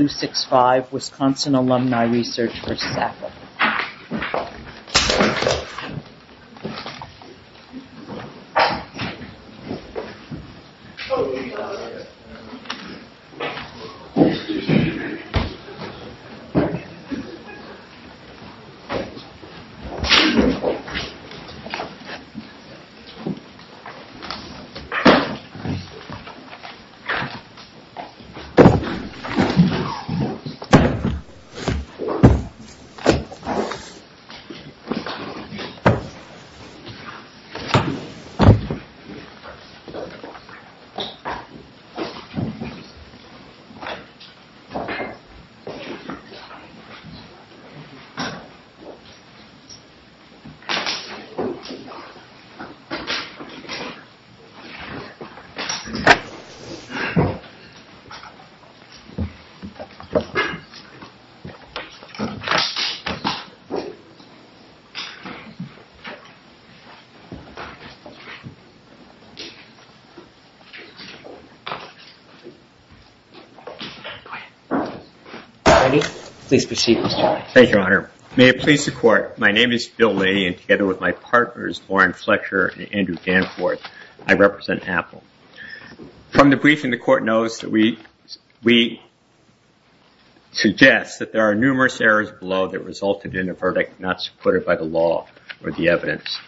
resistance. Please be seated. Thank you, Your Honor. May it please the Court, my name is Bill Lee and together with my partners Warren Fletcher and Andrew Danforth, I represent Apple. From the briefing, the Court knows that we suggest that there are numerous errors below that resulted in a verdict not supported by the law or the evidence.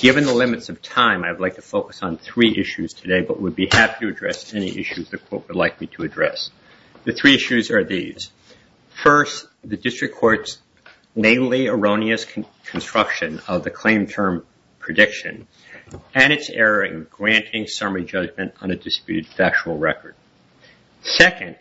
Given the limits of time, I'd like to focus on three issues today, but would be happy to address any issues the Court would like me to address. The three issues are these. First, the District Court's mainly erroneous construction of the claim term prediction and its error in granting summary judgment on a disputed factual record. Second,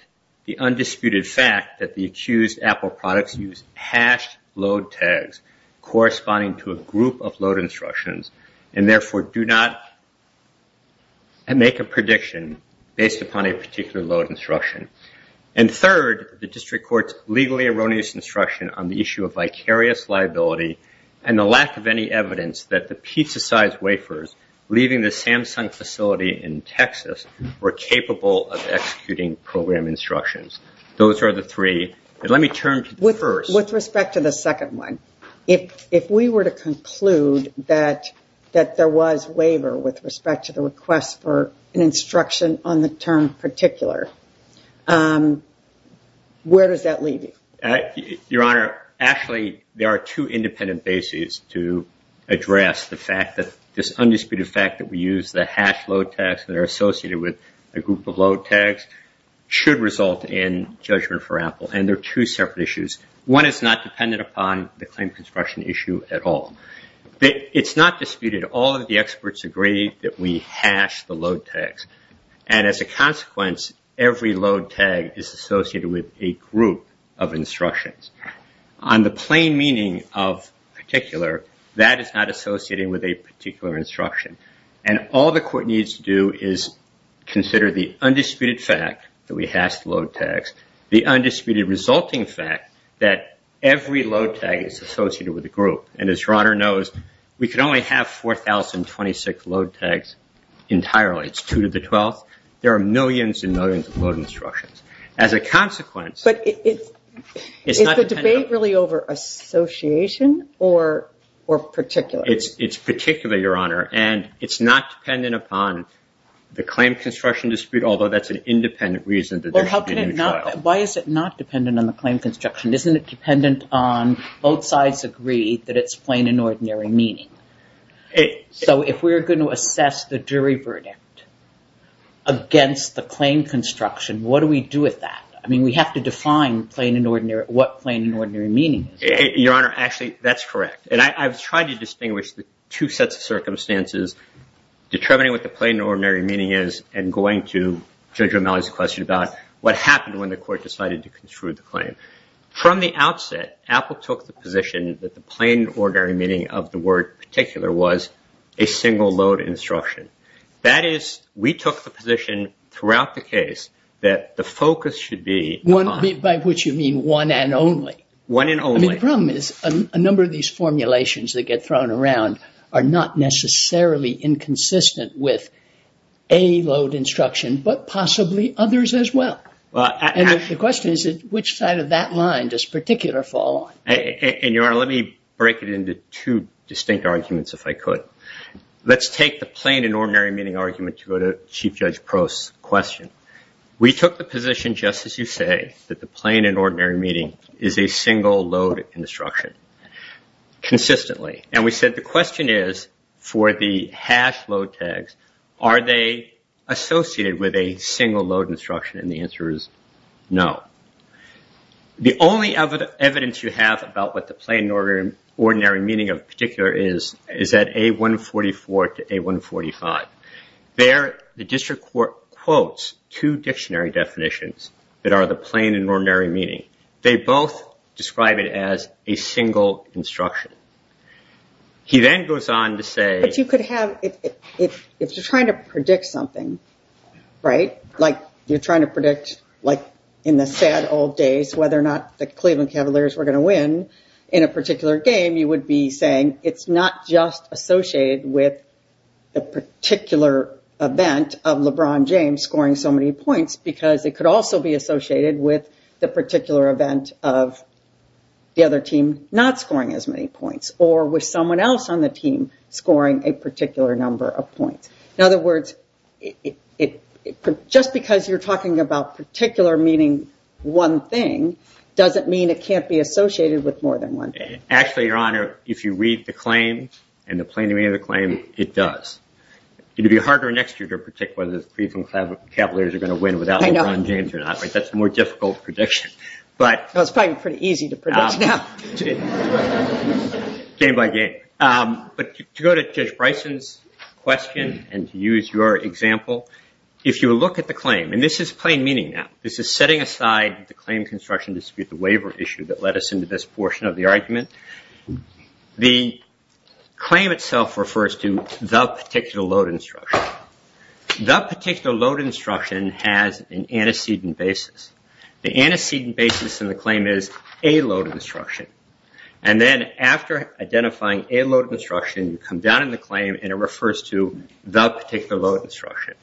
the undisputed fact that the accused Apple products use hashed load tags corresponding to a group of load instructions and therefore do not make a prediction based upon a particular load instruction. And third, the District Court's legally erroneous instruction on the issue of vicarious liability and the lack of any evidence that the pizza-sized wafers leaving the Samsung facility in Texas were capable of executing program instructions. Those are the three. Let me turn to the first. With respect to the second one, if we were to conclude that that there was waiver with respect to the request for an instruction on the term particular, where does that leave you? Your Honor, actually there are two independent bases to address the fact that this undisputed fact that we use the hash load tags that are associated with a group of load tags should result in judgment for Apple, and there are two separate issues. One is not dependent upon the claim construction issue at all. It's not disputed. All of the experts agree that we hash the load tags, and as a consequence, every load tag is associated with a group of instructions. On the plain meaning of particular, that is not associated with a particular instruction, and all the court needs to do is consider the undisputed fact that we hash the load tags, the undisputed resulting fact that every load tag is associated with a group of instructions. As a consequence, your Honor knows, we can only have 4,026 load tags entirely. It's 2 to the 12th. There are millions and millions of load instructions. As a consequence, it's not dependent upon the claim construction dispute, although that's an independent reason that there should be a new trial. Why is it not dependent on the claim construction? Isn't it dependent on both sides agreeing that it's plain and ordinary meaning? So if we're going to assess the jury verdict against the claim construction, what do we do with that? I mean, we have to define plain and ordinary, what plain and ordinary meaning is. Your Honor, actually, that's correct, and I've tried to distinguish the two sets of circumstances, determining what the plain and ordinary meaning is and going to Judge O'Malley's question about what happened when the court decided to took the position that the plain and ordinary meaning of the word particular was a single load instruction. That is, we took the position throughout the case that the focus should be on... By which you mean one and only. One and only. The problem is, a number of these formulations that get thrown around are not necessarily inconsistent with a load instruction, but possibly others as well. And the question is, which side of that line does particular fall on? And, Your Honor, let me break it into two distinct arguments, if I could. Let's take the plain and ordinary meaning argument to go to Chief Judge Crowe's question. We took the position, just as you say, that the plain and ordinary meaning is a single load instruction, consistently. And we said the question is, for the hash load tags, are they associated with a single load instruction? And the answer is no. The only evidence you have about what the plain and ordinary meaning of particular is, is that A144 to A145. There, the district court quotes two dictionary definitions that are the plain and ordinary meaning. They both describe it as a single instruction. He then goes on to say... ...of LeBron James scoring so many points, because it could also be associated with the particular event of the other team not scoring as many points, or with someone else on the team scoring a particular number of points. In other words, just because you're talking about particular meaning one thing, doesn't mean it can't be associated with more than one thing. Actually, Your Honor, if you read the claim, and the plain and ordinary meaning of the claim, it does. It would be harder next year to predict whether the Cleveland Catholic Capillaries are going to win without LeBron James or not. That's a more difficult prediction. It's probably pretty easy to predict now. Game by game. To go to Judge Bryson's question and to use your example, if you look at the claim, and this is plain meaning now. This is setting aside the claim construction dispute, the waiver issue that led us into this portion of the argument. The claim itself refers to the particular load instruction. The particular load instruction has an antecedent basis. The antecedent basis in the claim is a load instruction. Then after identifying a load instruction, you come down in the claim and it refers to that particular load instruction.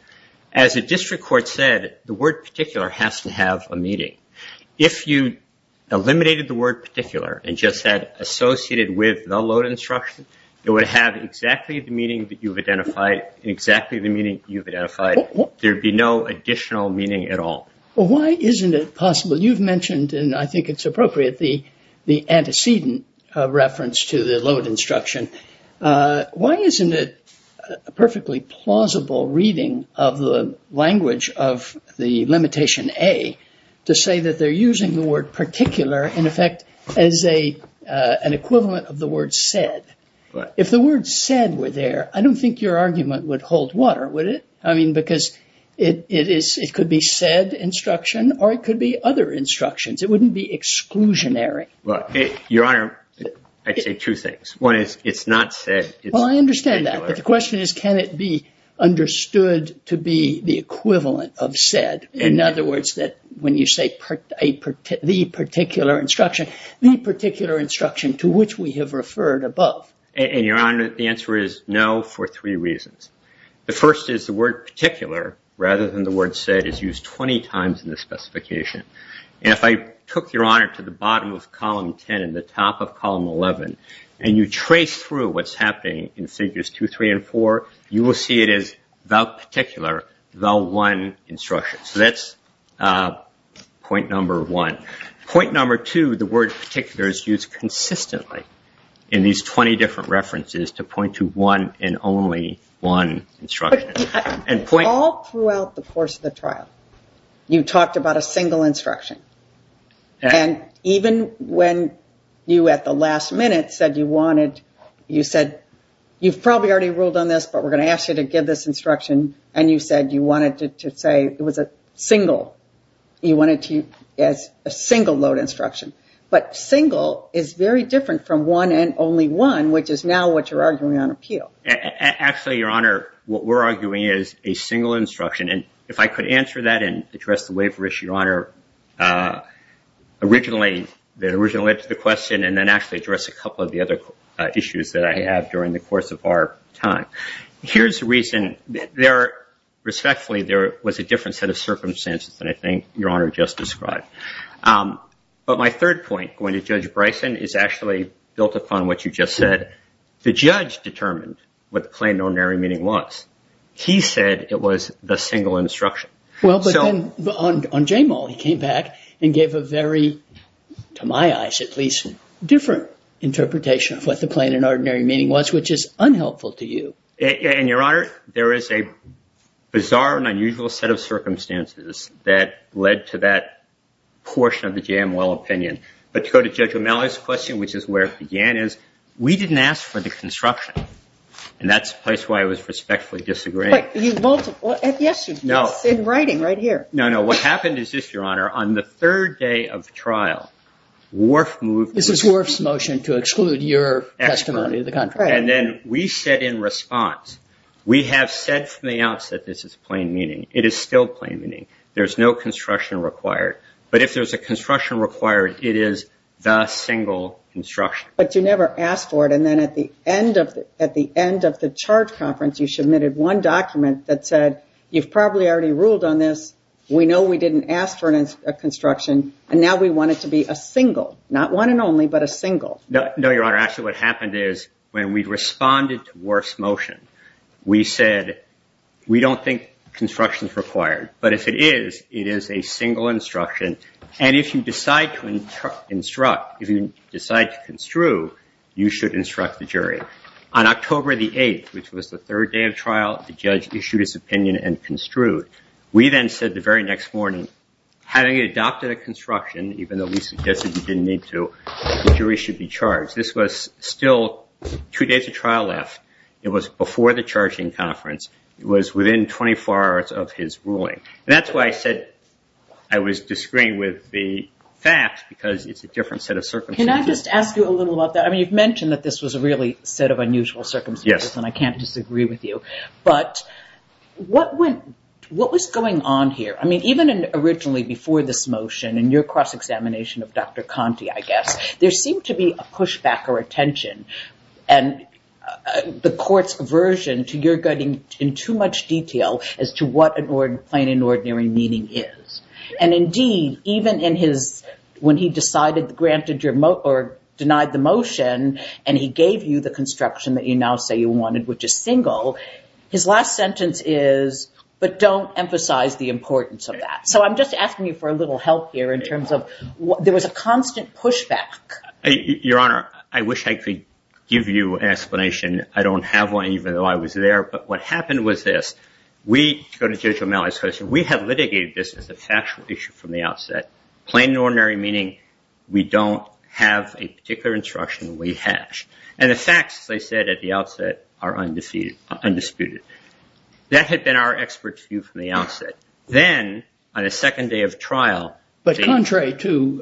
As the district court said, the word particular has to have a meaning. If you eliminated the word particular and just said associated with the load instruction, it would have exactly the meaning that you've identified, exactly the meaning that you've identified. There would be no additional meaning at all. Why isn't it possible? You've mentioned, and I think it's appropriate, the antecedent reference to the load instruction. Why isn't it a perfectly plausible reading of the language of the limitation A to say that they're using the word particular in effect as an equivalent of the word said? If the word said were there, I don't think your argument would hold water, would it? Because it could be said instruction or it could be other instructions. It wouldn't be exclusionary. Your Honor, I'd say two things. One, it's not said. Well, I understand that. But the question is, can it be understood to be the equivalent of said? In other words, when you say the particular instruction, the particular instruction to which we have referred above. And, Your Honor, the answer is no for three reasons. The first is the word particular, rather than the word said, is used 20 times in the specification. And if I took, Your Honor, to the bottom of Column 10 and the top of Column 11, and you trace through what's happening in Figures 2, 3, and 4, you will see it is the particular, the one instruction. So that's point number one. Point number two, the word particular is used consistently in these 20 different references to point to one and only one instruction. All throughout the course of the trial, you talked about a single instruction. And even when you at the last minute said you wanted, you said, you've probably already ruled on this, but we're going to ask you to give this instruction. And you said you wanted to say it was a single, you wanted to use it as a single load instruction. But single is very different from one and only one, which is now what you're arguing on appeal. Actually, Your Honor, what we're arguing is a single instruction. And if I could answer that and address the waiver issue, Your Honor, originally, the original answer to the question, and then actually address a couple of the other issues that I have during the course of our time. Here's the reason, respectfully, there was a different set of circumstances than I think Your Honor just described. But my third point, going to Judge Bryson, is actually built upon what you just said. The judge determined what the plain and ordinary meaning was. He said it was the single instruction. Well, but then on JMOL, he came back and gave a very, to my eyes at least, different interpretation of what the plain and ordinary meaning was, which is unhelpful to you. And Your Honor, there is a bizarre and unusual set of circumstances that led to that portion of the JMOL opinion. But to go to Judge O'Malley's question, which is where it began, is we didn't ask for the construction. And that's the place where I was respectfully disagreeing. No. In writing, right here. No, no. What happened is this, Your Honor. On the third day of trial, WRF moved. This is WRF's motion to exclude your testimony. And then we said in response, we have said from the outset this is plain meaning. It is still plain meaning. There's no construction required. But if there's a construction required, it is the single instruction. But you never asked for it. And then at the end of the charge conference, you submitted one document that said you've probably already ruled on this. We know we didn't ask for a construction. And now we want it to be a single. Not one and only, but a single. No, Your Honor. Actually, what happened is when we responded to WRF's motion, we said we don't think construction is required. But if it is, it is a single instruction. And if you decide to instruct, if you decide to construe, you should instruct the jury. On October the 8th, which was the third day of trial, the judge issued his opinion and construed. We then said the very next morning, having adopted a construction, even though we suggested you didn't need to, the jury should be charged. This was still two days of trial left. It was before the charging conference. It was within 24 hours of his ruling. And that's why I said I was disagreeing with the facts, because it's a different set of circumstances. Can I just ask you a little about that? I mean, you've mentioned that this was a really set of unusual circumstances, and I can't disagree with you. But what was going on here? I mean, even originally before this motion and your cross-examination of Dr. Conte, I guess, there seemed to be a pushback or a tension. And the court's aversion to your getting in too much detail as to what plain and ordinary meaning is. And indeed, even in his, when he decided, granted your, or denied the motion, and he gave you the construction that you now say you wanted, which is single, his last sentence is, but don't emphasize the importance of that. So I'm just asking you for a little help here in terms of, there was a constant pushback. Your Honor, I wish I could give you an explanation. I don't have one, even though I was there. But what happened was this. We, going to Judge O'Malley's question, we have litigated this as a factual issue from the outset. Plain and ordinary meaning, we don't have a particular instruction we hash. And the facts, as I said at the outset, are undisputed. That had been our expert view from the outset. Then, on a second day of trial. But contrary to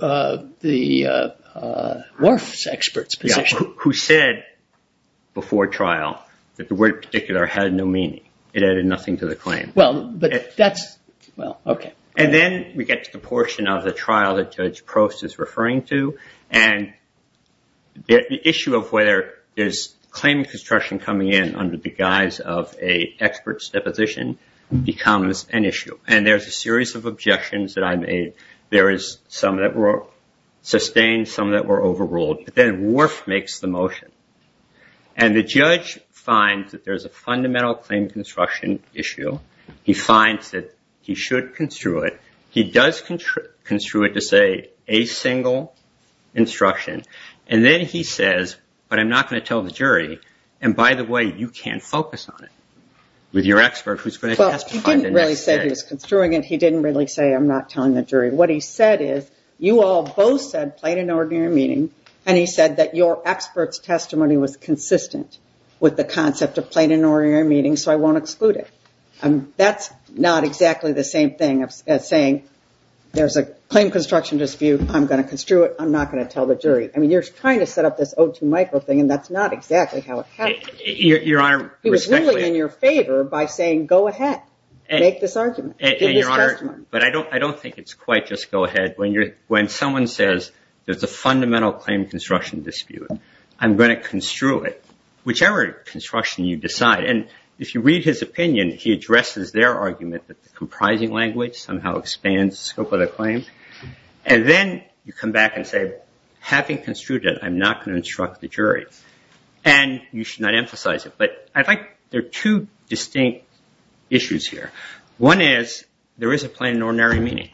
the Morse expert's position. Who said before trial that the word particular had no meaning. It added nothing to the claim. Well, but that's, well, okay. And then we get to the portion of the trial that Judge Prost is referring to. And the issue of where is claim construction coming in under the guise of an expert's deposition becomes an issue. And there's a series of objections that I made. There is some that were sustained. Some that were overruled. Then, Worf makes the motion. And the judge finds that there's a fundamental claim construction issue. He finds that he should construe it. He does construe it to say a single instruction. And then he says, but I'm not going to tell the jury. And, by the way, you can't focus on it. With your expert who's going to testify the next day. He didn't really say he was construing it. He didn't really say I'm not telling the jury. What he said is, you all both said plain and ordinary meaning. And he said that your expert's testimony was consistent with the concept of plain and ordinary meaning. So I won't exclude it. And that's not exactly the same thing as saying there's a claim construction dispute. I'm going to construe it. I'm not going to tell the jury. I mean, you're trying to set up this O2 micro thing, and that's not exactly how it happens. Your Honor. He was really in your favor by saying go ahead. Make this argument. But I don't think it's quite just go ahead. When someone says there's a fundamental claim construction dispute, I'm going to construe it. Whichever construction you decide. And if you read his opinion, he addresses their argument that the comprising language somehow expands the scope of the claim. And then you come back and say, having construed it, I'm not going to instruct the jury. And you should not emphasize it. But I think there are two distinct issues here. One is there is a plain and ordinary meaning.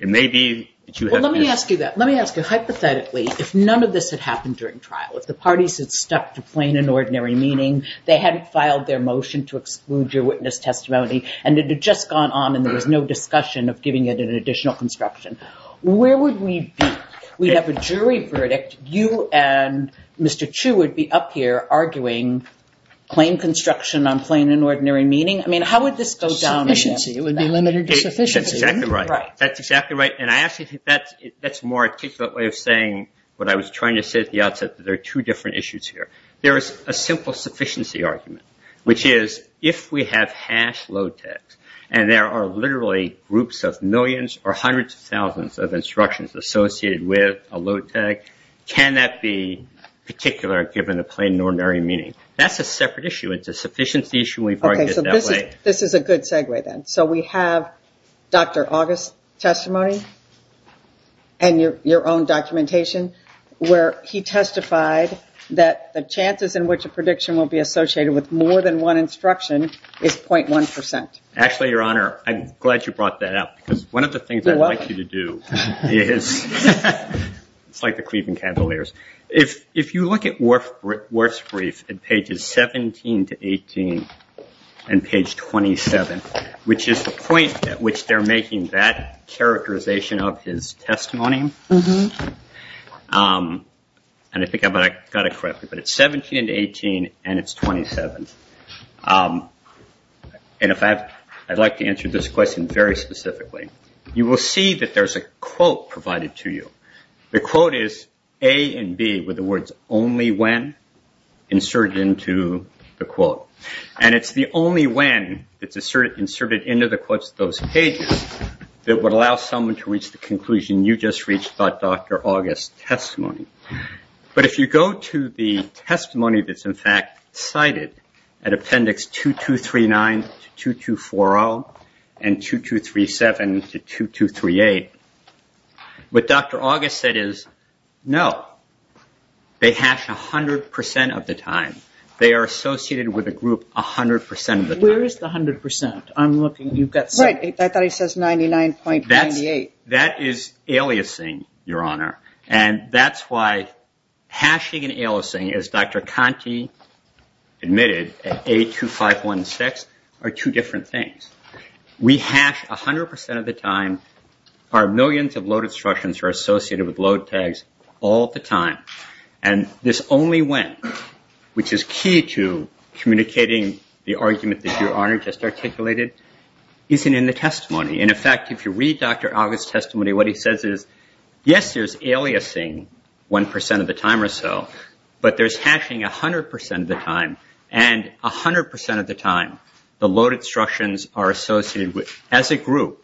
It may be that you have. Well, let me ask you that. Let me ask you hypothetically if none of this had happened during trial. The parties had stuck to plain and ordinary meaning. They hadn't filed their motion to exclude your witness testimony. And it had just gone on, and there was no discussion of giving it an additional construction. Where would we be? We have a jury verdict. You and Mr. Chu would be up here arguing claim construction on plain and ordinary meaning. I mean, how would this go down? That's exactly right. That's exactly right. And I actually think that's a more articulate way of saying what I was trying to say at the outset, that there are two different issues here. There is a simple sufficiency argument, which is, if we have hashed LOTEC, and there are literally groups of millions or hundreds of thousands of instructions associated with a LOTEC, can that be particular given a plain and ordinary meaning? That's a separate issue. It's a sufficiency issue. We've argued that way. This is a good segue, then. So we have Dr. August's testimony and your own documentation, where he testified that the chances in which a prediction will be associated with more than one instruction is 0.1%. Actually, Your Honor, I'm glad you brought that up, because one of the things I want you to do is, like the Cleveland Candeliers, if you look at Worf's brief in pages 17 to 18 and page 27, which is the point at which they're making that characterization of his testimony, and I think I've got it correctly, but it's 17 to 18 and it's 27. And I'd like to answer this question very specifically. You will see that there's a quote provided to you. The quote is, A and B, with the words, only when, inserted into the quote. And it's the only when that's inserted into those pages that would allow someone to reach the conclusion you just reached about Dr. August's testimony. But if you go to the testimony that's in fact cited at appendix 2239 to 2240 and 2237 to 2238, what Dr. August said is, no. They have to 100% of the time. They are associated with a group 100% of the time. Where is the 100%? I'm looking. Right. I thought he says 99.98. That is aliasing, Your Honor. And that's why hashing and aliasing, as Dr. Conte admitted, at A2516, are two different things. We hash 100% of the time. Our millions of load instructions are associated with load tags all the time. And this only when, which is key to communicating the argument that Your Honor just articulated, isn't in the testimony. And in fact, if you read Dr. August's testimony, what he says is, yes, there's aliasing 1% of the time or so. But there's hashing 100% of the time. And 100% of the time, the load instructions are associated as a group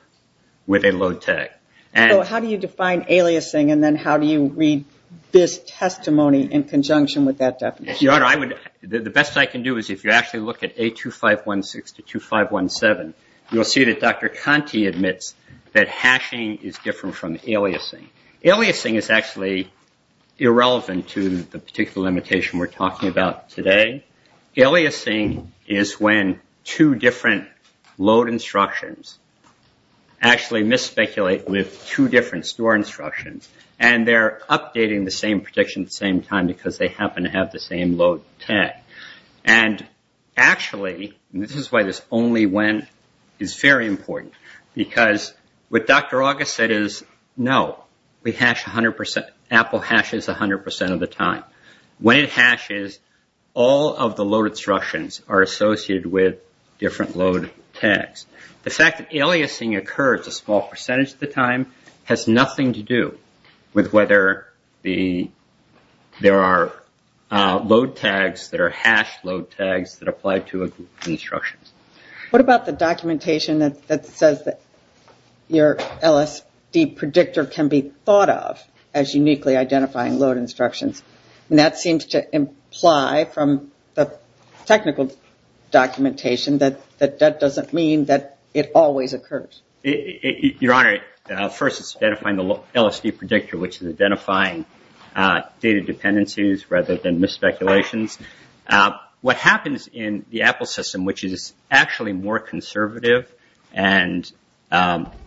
with a load tag. So how do you define aliasing and then how do you read this testimony in conjunction with that definition? The best I can do is if you actually look at A2516 to 2517, you'll see that Dr. Conte admits that hashing is different from aliasing. Aliasing is actually irrelevant to the particular limitation we're talking about today. Aliasing is when two different load instructions actually misspeculate with two different store instructions. And they're updating the same prediction at the same time because they happen to have the same load tag. And actually, this is why this only when is very important. Because what Dr. August said is, no, we hash 100%. Apple hashes 100% of the time. When it hashes, all of the load instructions are associated with different load tags. The fact that aliasing occurs a small percentage of the time has nothing to do with whether there are load tags that are hashed load tags that apply to the instructions. What about the documentation that says that your LSD predictor can be thought of as uniquely identifying load instructions? And that seems to imply from the technical documentation that that doesn't mean that it always occurs. Your Honor, first, it's identifying the LSD predictor, which is identifying data dependencies rather than misspeculations. What happens in the Apple system, which is actually more conservative and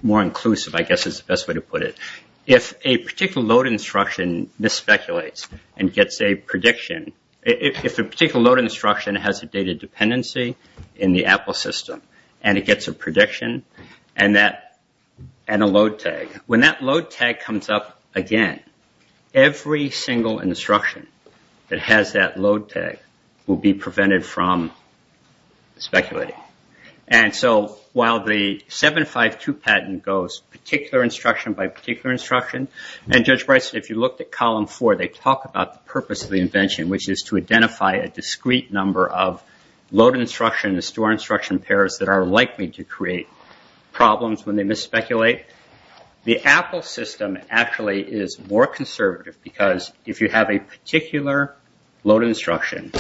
more inclusive, I guess is the best way to put it. If a particular load instruction misspeculates and gets a prediction, if a particular load instruction has a data dependency in the Apple system and it gets a prediction and a load tag, when that load tag comes up again, every single instruction that has that load tag will be prevented from speculating. And so while the 752 patent goes particular instruction by particular instruction, and Judge Bryson, if you look at column four, they talk about the purpose of the invention, which is to identify a discrete number of load instructions, store instruction pairs that are likely to create problems when they misspeculate. The Apple system actually is more conservative because if you have a particular load instruction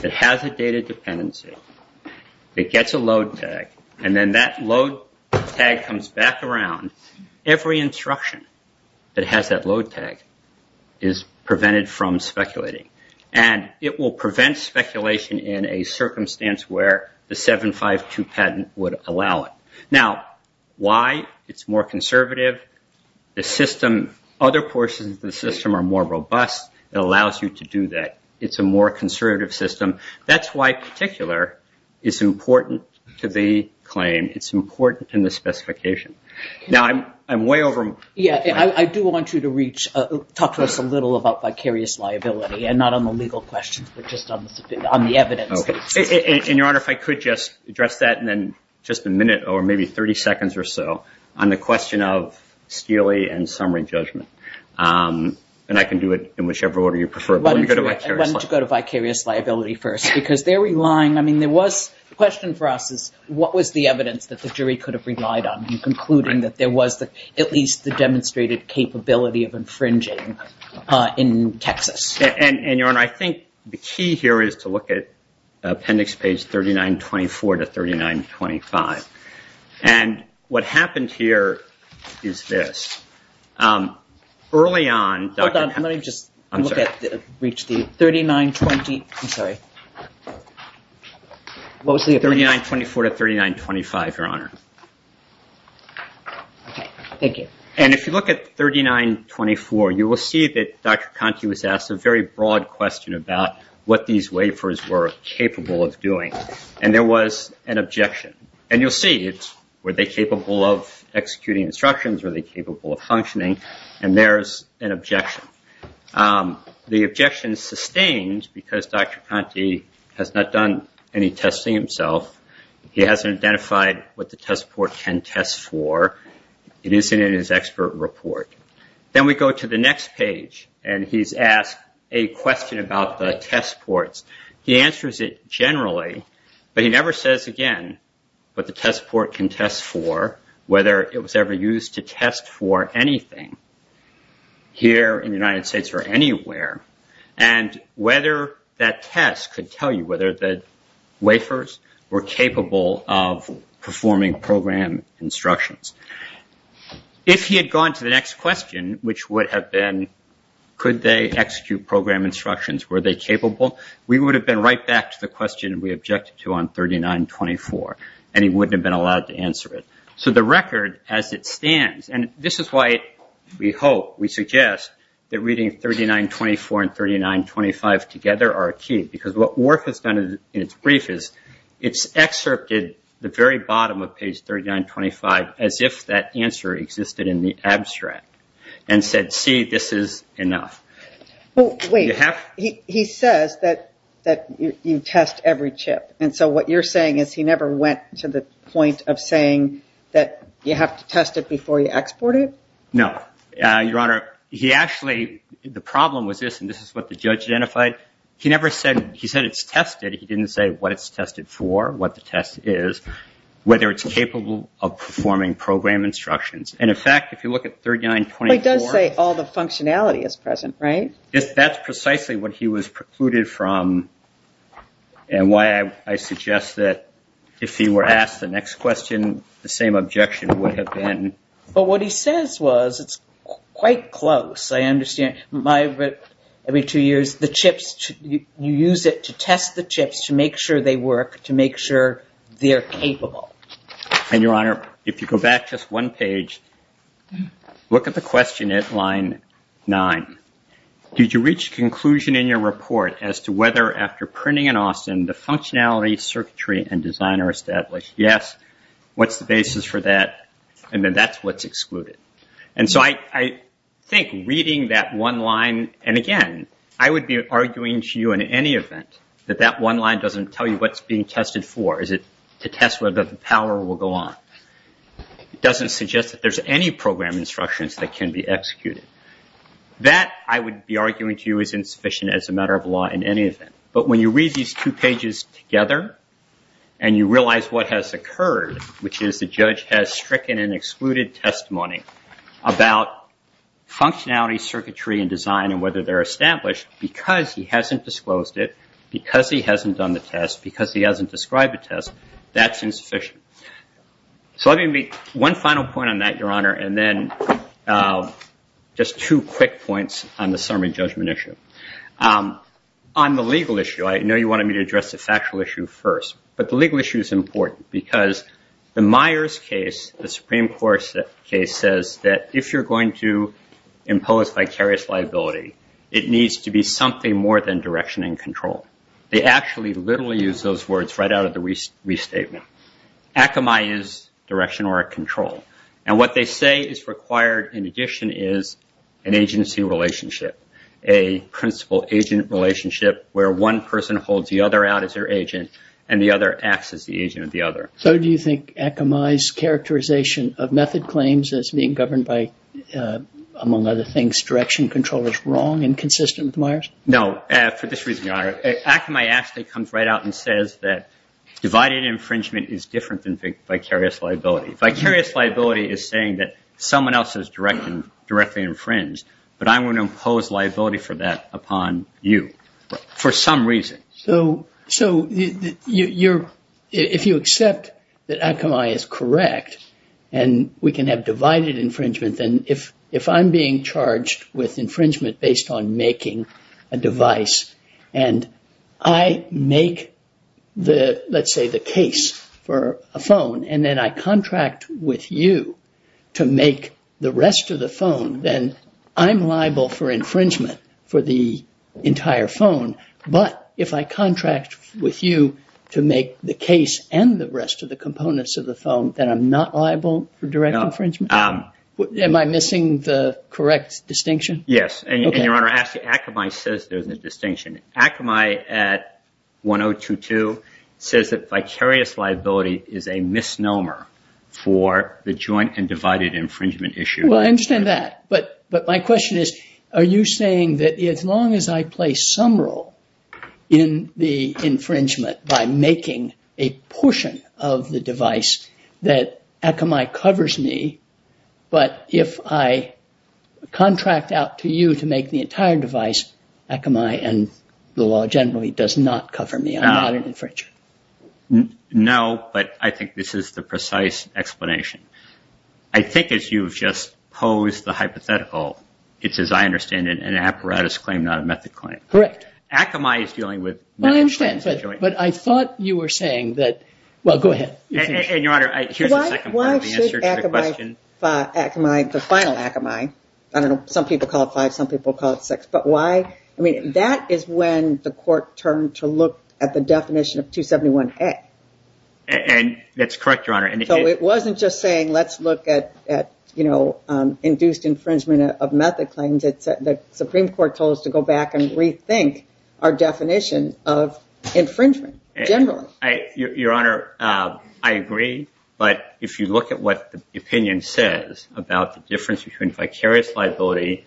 that has a data dependency, it gets a load tag and then that load tag comes back around. Every instruction that has that load tag is prevented from speculating and it will prevent speculation in a circumstance where the 752 patent would allow it. Now, why? It's more conservative. The system, other portions of the system are more robust. It allows you to do that. It's a more conservative system. That's why particular is important to the claim. It's important in the specification. Now, I'm way over. Yeah, I do want you to reach, talk to us a little about vicarious liability and not on the legal questions, but just on the evidence. And, Your Honor, if I could just address that and then just a minute or maybe 30 seconds or so on the question of steely and summary judgment, and I can do it in whichever order you prefer. Let me go to vicarious liability first because they're relying. I mean, there was a question for us is what was the evidence that the jury could have relied on in concluding that there was at least the demonstrated capability of infringing in Texas? And, Your Honor, I think the key here is to look at appendix page 3924 to 3925. And what happens here is this. Early on. Let me just reach the 3920. I'm sorry. What was the 3924 to 3925, Your Honor? Thank you. And if you look at 3924, you will see that Dr. Conti was asked a very broad question about what these waivers were capable of doing. And there was an objection. And you'll see, were they capable of executing instructions? Were they capable of functioning? And there's an objection. The objection is sustained because Dr. Conti has not done any testing himself. He hasn't identified what the test port can test for. It isn't in his expert report. Then we go to the next page and he's asked a question about the test ports. He answers it generally, but he never says again what the test port can test for, whether it was ever used to test for anything here in the United States or anywhere, and whether that test could tell you whether the waivers were capable of performing program instructions. If he had gone to the next question, which would have been could they execute program instructions? Were they capable? We would have been right back to the question we objected to on 3924 and he wouldn't have been allowed to answer it. So the record as it stands, and this is why we hope, we suggest that reading 3924 and 3925 together are key. Because what ORF has done in its brief is it's excerpted the very bottom of page 3925 as if that answer existed in the abstract and said, see, this is enough. Wait, he says that you test every chip. And so what you're saying is he never went to the point of saying that you have to test it before you export it? No, Your Honor. He actually, the problem with this, and this is what the judge identified, he never said he said it's tested. He didn't say what it's tested for, what the test is, whether it's capable of performing program instructions. And in fact, if you look at 3924... He does say all the functionality is present, right? That's precisely what he was precluded from and why I suggest that if he were asked the next question, the same objection would have been... But what he says was, it's quite close. I understand my, every two years, the chips, you use it to test the chips to make sure they work, to make sure they're capable. And Your Honor, if you go back just one page, look at the question at line nine. Did you reach a conclusion in your report as to whether after printing in Austin, the functionality, circuitry, and design are established? Yes. What's the basis for that? And then that's what's excluded. And so I think reading that one line, and again, I would be arguing to you in any event that that one line doesn't tell you what's being tested for. Is it to test whether the power will go on? It doesn't suggest that there's any program instructions that can be executed. That, I would be arguing to you, is insufficient as a matter of law in any event. But when you read these two pages together, and you realize what has occurred, which is the judge has stricken an excluded testimony about functionality, circuitry, and design, and whether they're established, because he hasn't disclosed it, because he hasn't done the test, because he hasn't described the test, that's insufficient. So I think one final point on that, Your Honor, and then just two quick points on the summary judgment issue. On the legal issue, I know you wanted me to address the factual issue first. But the legal issue is important because the Myers case, the Supreme Court case, says that if you're going to impose vicarious liability, it needs to be something more than direction and control. They actually literally use those words right out of the restatement. Akamai is direction or control. And what they say is required in addition is an agency relationship, a principal-agent relationship, where one person holds the other out as their agent, and the other acts as the agent of the other. So do you think Akamai's characterization of method claims as being governed by, among other things, direction control is wrong and inconsistent with Myers? No, for this reason, Your Honor. Akamai actually comes right out and says that divided infringement is different than vicarious liability. Vicarious liability is saying that someone else is directly infringed, but I'm going to impose liability for that upon you for some reason. So if you accept that Akamai is correct and we can have divided infringement, then if I'm being charged with infringement based on making a device and I make, let's say, the case for a phone and then I contract with you to make the rest of the phone, then I'm liable for infringement for the entire phone. But if I contract with you to make the case and the rest of the components of the phone, then I'm not liable for direct infringement? No. Am I missing the correct distinction? Yes. And Your Honor, Akamai says there's a distinction. Akamai at 1022 says that vicarious liability is a misnomer for the joint and divided infringement issue. Well, I understand that. But my question is, are you saying that as long as I play some role in the infringement by making a portion of the device, that Akamai covers me? But if I contract out to you to make the entire device, Akamai and the law generally does not cover me. I'm not an infringer. No, but I think this is the precise explanation. I think as you've just posed the hypothetical, it's as I understand it, an apparatus claim, not a method claim. Correct. Akamai is dealing with... I understand. But I thought you were saying that... Well, go ahead. And Your Honor, here's the second part of the answer to the question. Why should Akamai, the final Akamai, I don't know, some people call it five, some people call it six, but why? I mean, that is when the court turned to look at the definition of 271A. And that's correct, Your Honor. So it wasn't just saying, let's look at induced infringement of method claims. The Supreme Court told us to go back and rethink our definition of infringement generally. Your Honor, I agree. But if you look at what the opinion says about the difference between vicarious liability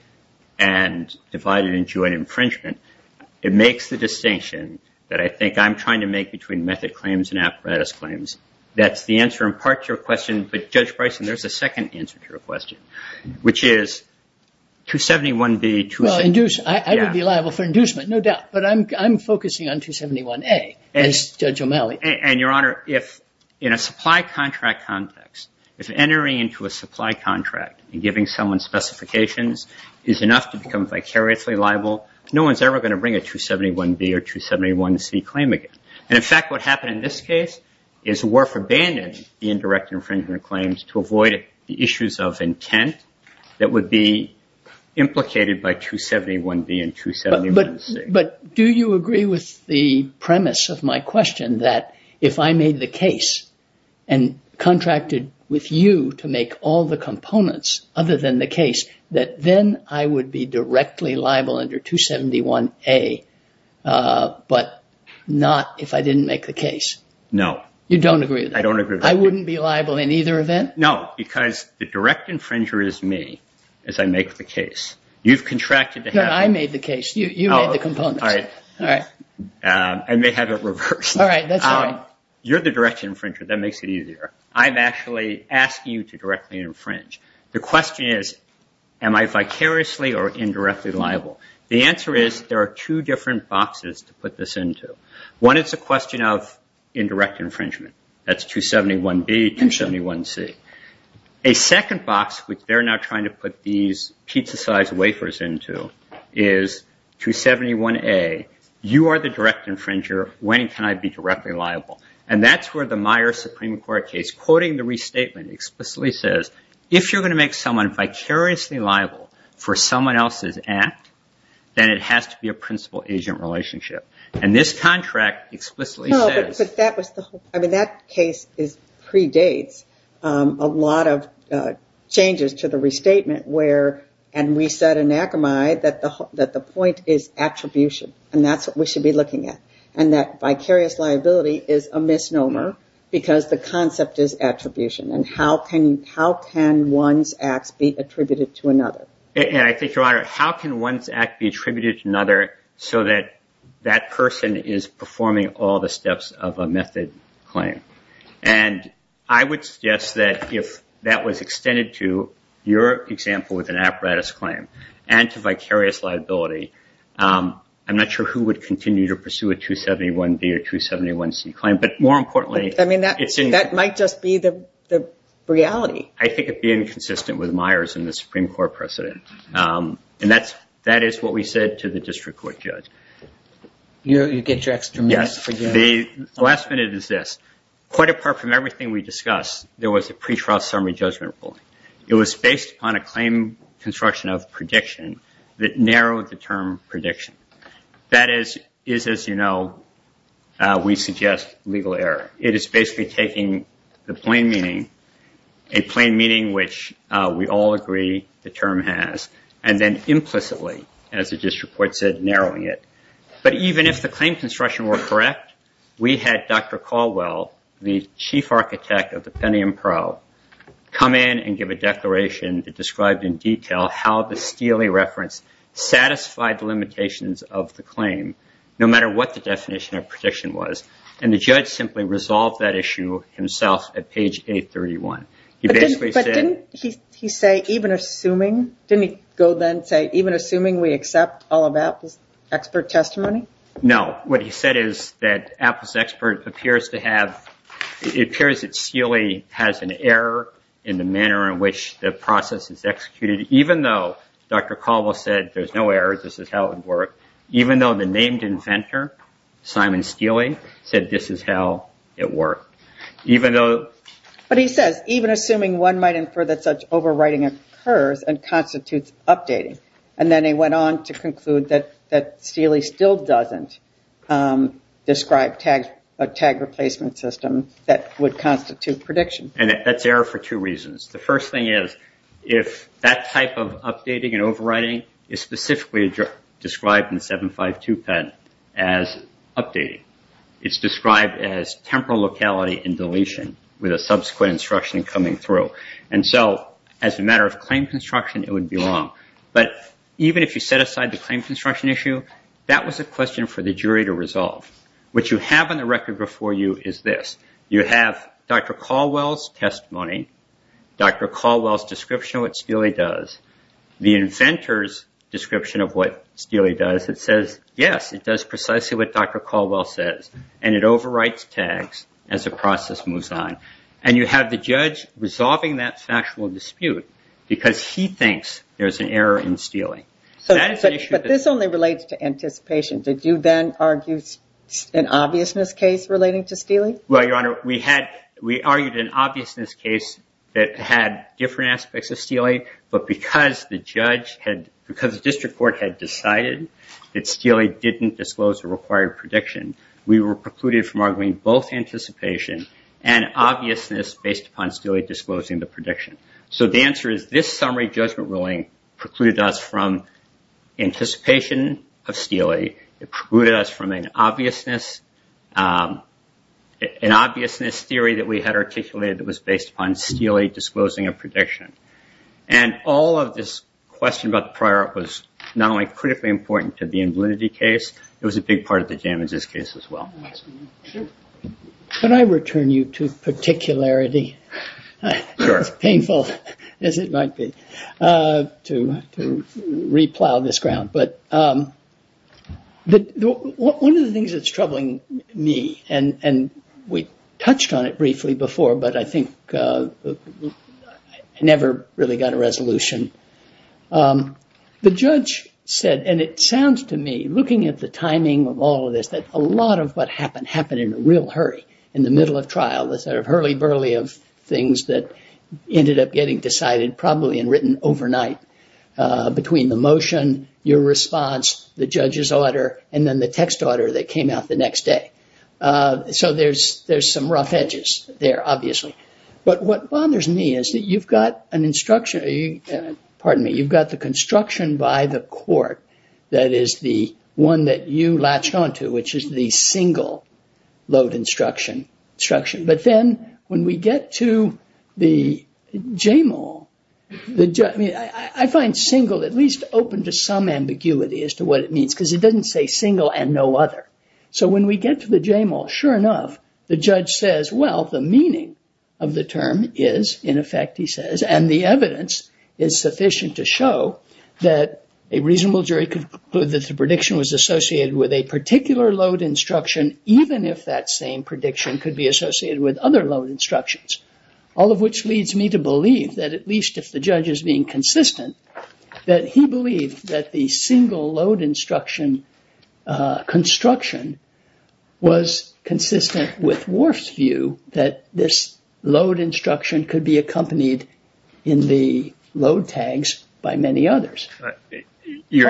and divided into an infringement, it makes the distinction that I think I'm trying to make between method claims and apparatus claims. That's the answer in part to your question. But Judge Bryson, there's a second answer to your question, which is 271B... Well, I would be liable for inducement, no doubt. But I'm focusing on 271A as Judge O'Malley. And Your Honor, if in a supply contract context, if entering into a supply contract and giving someone specifications is enough to become vicariously liable, no one's ever going to bring a 271B or 271C claim again. And in fact, what happened in this case is Worf abandoned the indirect infringement claims to avoid issues of intent that would be implicated by 271B and 271C. But do you agree with the premise of my question that if I made the case and contracted with you to make all the components other than the case, that then I would be directly liable under 271A, but not if I didn't make the case? No. You don't agree with that? I don't agree with that. I wouldn't be liable in either event? No, because the direct infringer is me as I make the case. You've contracted to have... No, I made the case. You made the components. All right. All right. I may have it reversed. All right. That's fine. You're the direct infringer. That makes it easier. I've actually asked you to directly infringe. The question is, am I vicariously or indirectly liable? The answer is there are two different boxes to put this into. One is the question of indirect infringement. That's 271B and 271C. A second box, which they're now trying to put these pizza-sized wafers into, is 271A. You are the direct infringer. When can I be directly liable? That's where the Meyer Supreme Court case, quoting the restatement, explicitly says, if you're going to make someone vicariously liable for someone else's act, then it has to be a principal-agent relationship. This contract explicitly says... No, but that case predates a lot of changes to the restatement, and we said in Akamai that the point is attribution, and that's what we should be looking at, and that vicarious liability is a misnomer because the concept is attribution, and how can one's act be attributed to another? And I think, Your Honor, how can one's act be attributed to another so that that person is performing all the steps of a method claim? And I would suggest that if that was extended to your example with an apparatus claim and to vicarious liability, I'm not sure who would continue to pursue a 271B or 271C claim, but more importantly... I mean, that might just be the reality. I think it would be inconsistent with Meyers and the Supreme Court precedent, and that is what we said to the district court judge. You get your extra minute. The last minute is this. Quite apart from everything we discussed, there was a pre-trial summary judgment rule. It was based on a claim construction of prediction that narrowed the term prediction. That is, as you know, we suggest legal error. It is basically taking the plain meaning, a plain meaning which we all agree the term has, and then implicitly, as the district court said, narrowing it. But even if the claim construction were correct, we had Dr. Caldwell, the chief architect of the Pentium Pro, come in and give a declaration that described in detail how the Steele reference satisfied the limitations of the claim, no matter what the definition of prediction was, and the judge simply resolved that issue himself at page 831. He basically said... But didn't he say, even assuming? Didn't he go then and say, even assuming we accept all of that expert testimony? No. What he said is that Apple's experts appears to have, it appears that Steele has an error in the manner in which the process is executed, even though Dr. Caldwell said there's no errors, this is how it worked, even though the named inventor, Simon Steele, said this is how it worked. Even though... But he said, even assuming one might infer that such overwriting occurs and constitutes updating. And then he went on to conclude that Steele still doesn't describe a tag replacement system that would constitute prediction. And that's error for two reasons. The first thing is, if that type of updating and overwriting is specifically described in 752 pen as updating, it's described as temporal locality and deletion with a subsequent instruction coming through. And so as a matter of claim construction, it would be wrong. But even if you set aside the claim construction issue, that was a question for the jury to resolve. What you have on the record before you is this. You have Dr. Caldwell's testimony, Dr. Caldwell's description of what Steele does, the inventor's description of what Steele does. It says, yes, it does precisely what Dr. Caldwell says. And it overwrites tags as the process moves on. And you have the judge resolving that factual dispute because he thinks there's an error in Steele. But this only relates to anticipation. Did you then argue an obviousness case relating to Steele? Well, Your Honor, we argued an obviousness case that had different aspects of Steele, but because the district court had decided that Steele didn't disclose the required prediction, we were precluded from arguing both anticipation and obviousness based upon Steele disclosing the prediction. So the answer is this summary judgment ruling precluded us from anticipation of Steele. It precluded us from an obviousness theory that we had articulated that was based upon Steele disclosing a prediction. And all of this question about the prior art was not only critically important to the invalidity case, it was a big part of the damages case as well. Can I return you to particularity? As painful as it might be to replow this ground. But one of the things that's troubling me, and we touched on it briefly before, but I think I never really got a resolution. The judge said, and it sounds to me, looking at the timing of all of this, that a lot of what happened happened in a real hurry, in the middle of trial, the sort of hurly burly of things that ended up getting decided probably and written overnight between the motion, your response, the judge's order, and then the text order that came out the next day. So there's some rough edges there, obviously. But what bothers me is that you've got an instruction, pardon me, you've got the construction by the court that is the one that you latched onto, which is the single load instruction. But then when we get to the JMO, I find single at least open to some ambiguity as to what it means, because it doesn't say single and no other. So when we get to the JMO, sure enough, the judge says, well, the meaning of the term is, in effect he says, and the evidence is sufficient to show that a reasonable jury could conclude that the prediction was associated with a particular load instruction, even if that same prediction could be associated with other load instructions. All of which leads me to believe that at least if the judge is being consistent, that he believes that the single load instruction construction was consistent with Worf's view that this load instruction could be accompanied in the load tags by many others. Why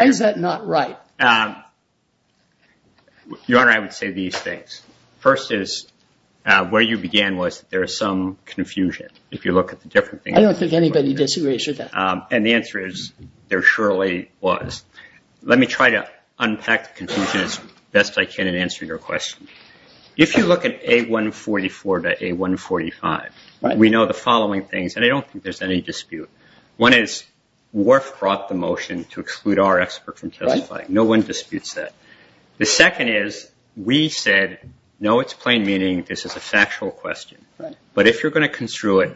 is that not right? Your Honor, I would say these things. First is where you began was there is some confusion if you look at the different things. I don't think anybody disagrees with that. And the answer is there surely was. Let me try to unpack the confusion as best I can in answering your question. If you look at A144 to A145, we know the following things, and I don't think there's any dispute. One is Worf brought the motion to exclude our expert from testifying. No one disputes that. The second is we said, no, it's plain meaning. This is a factual question. But if you're going to construe it,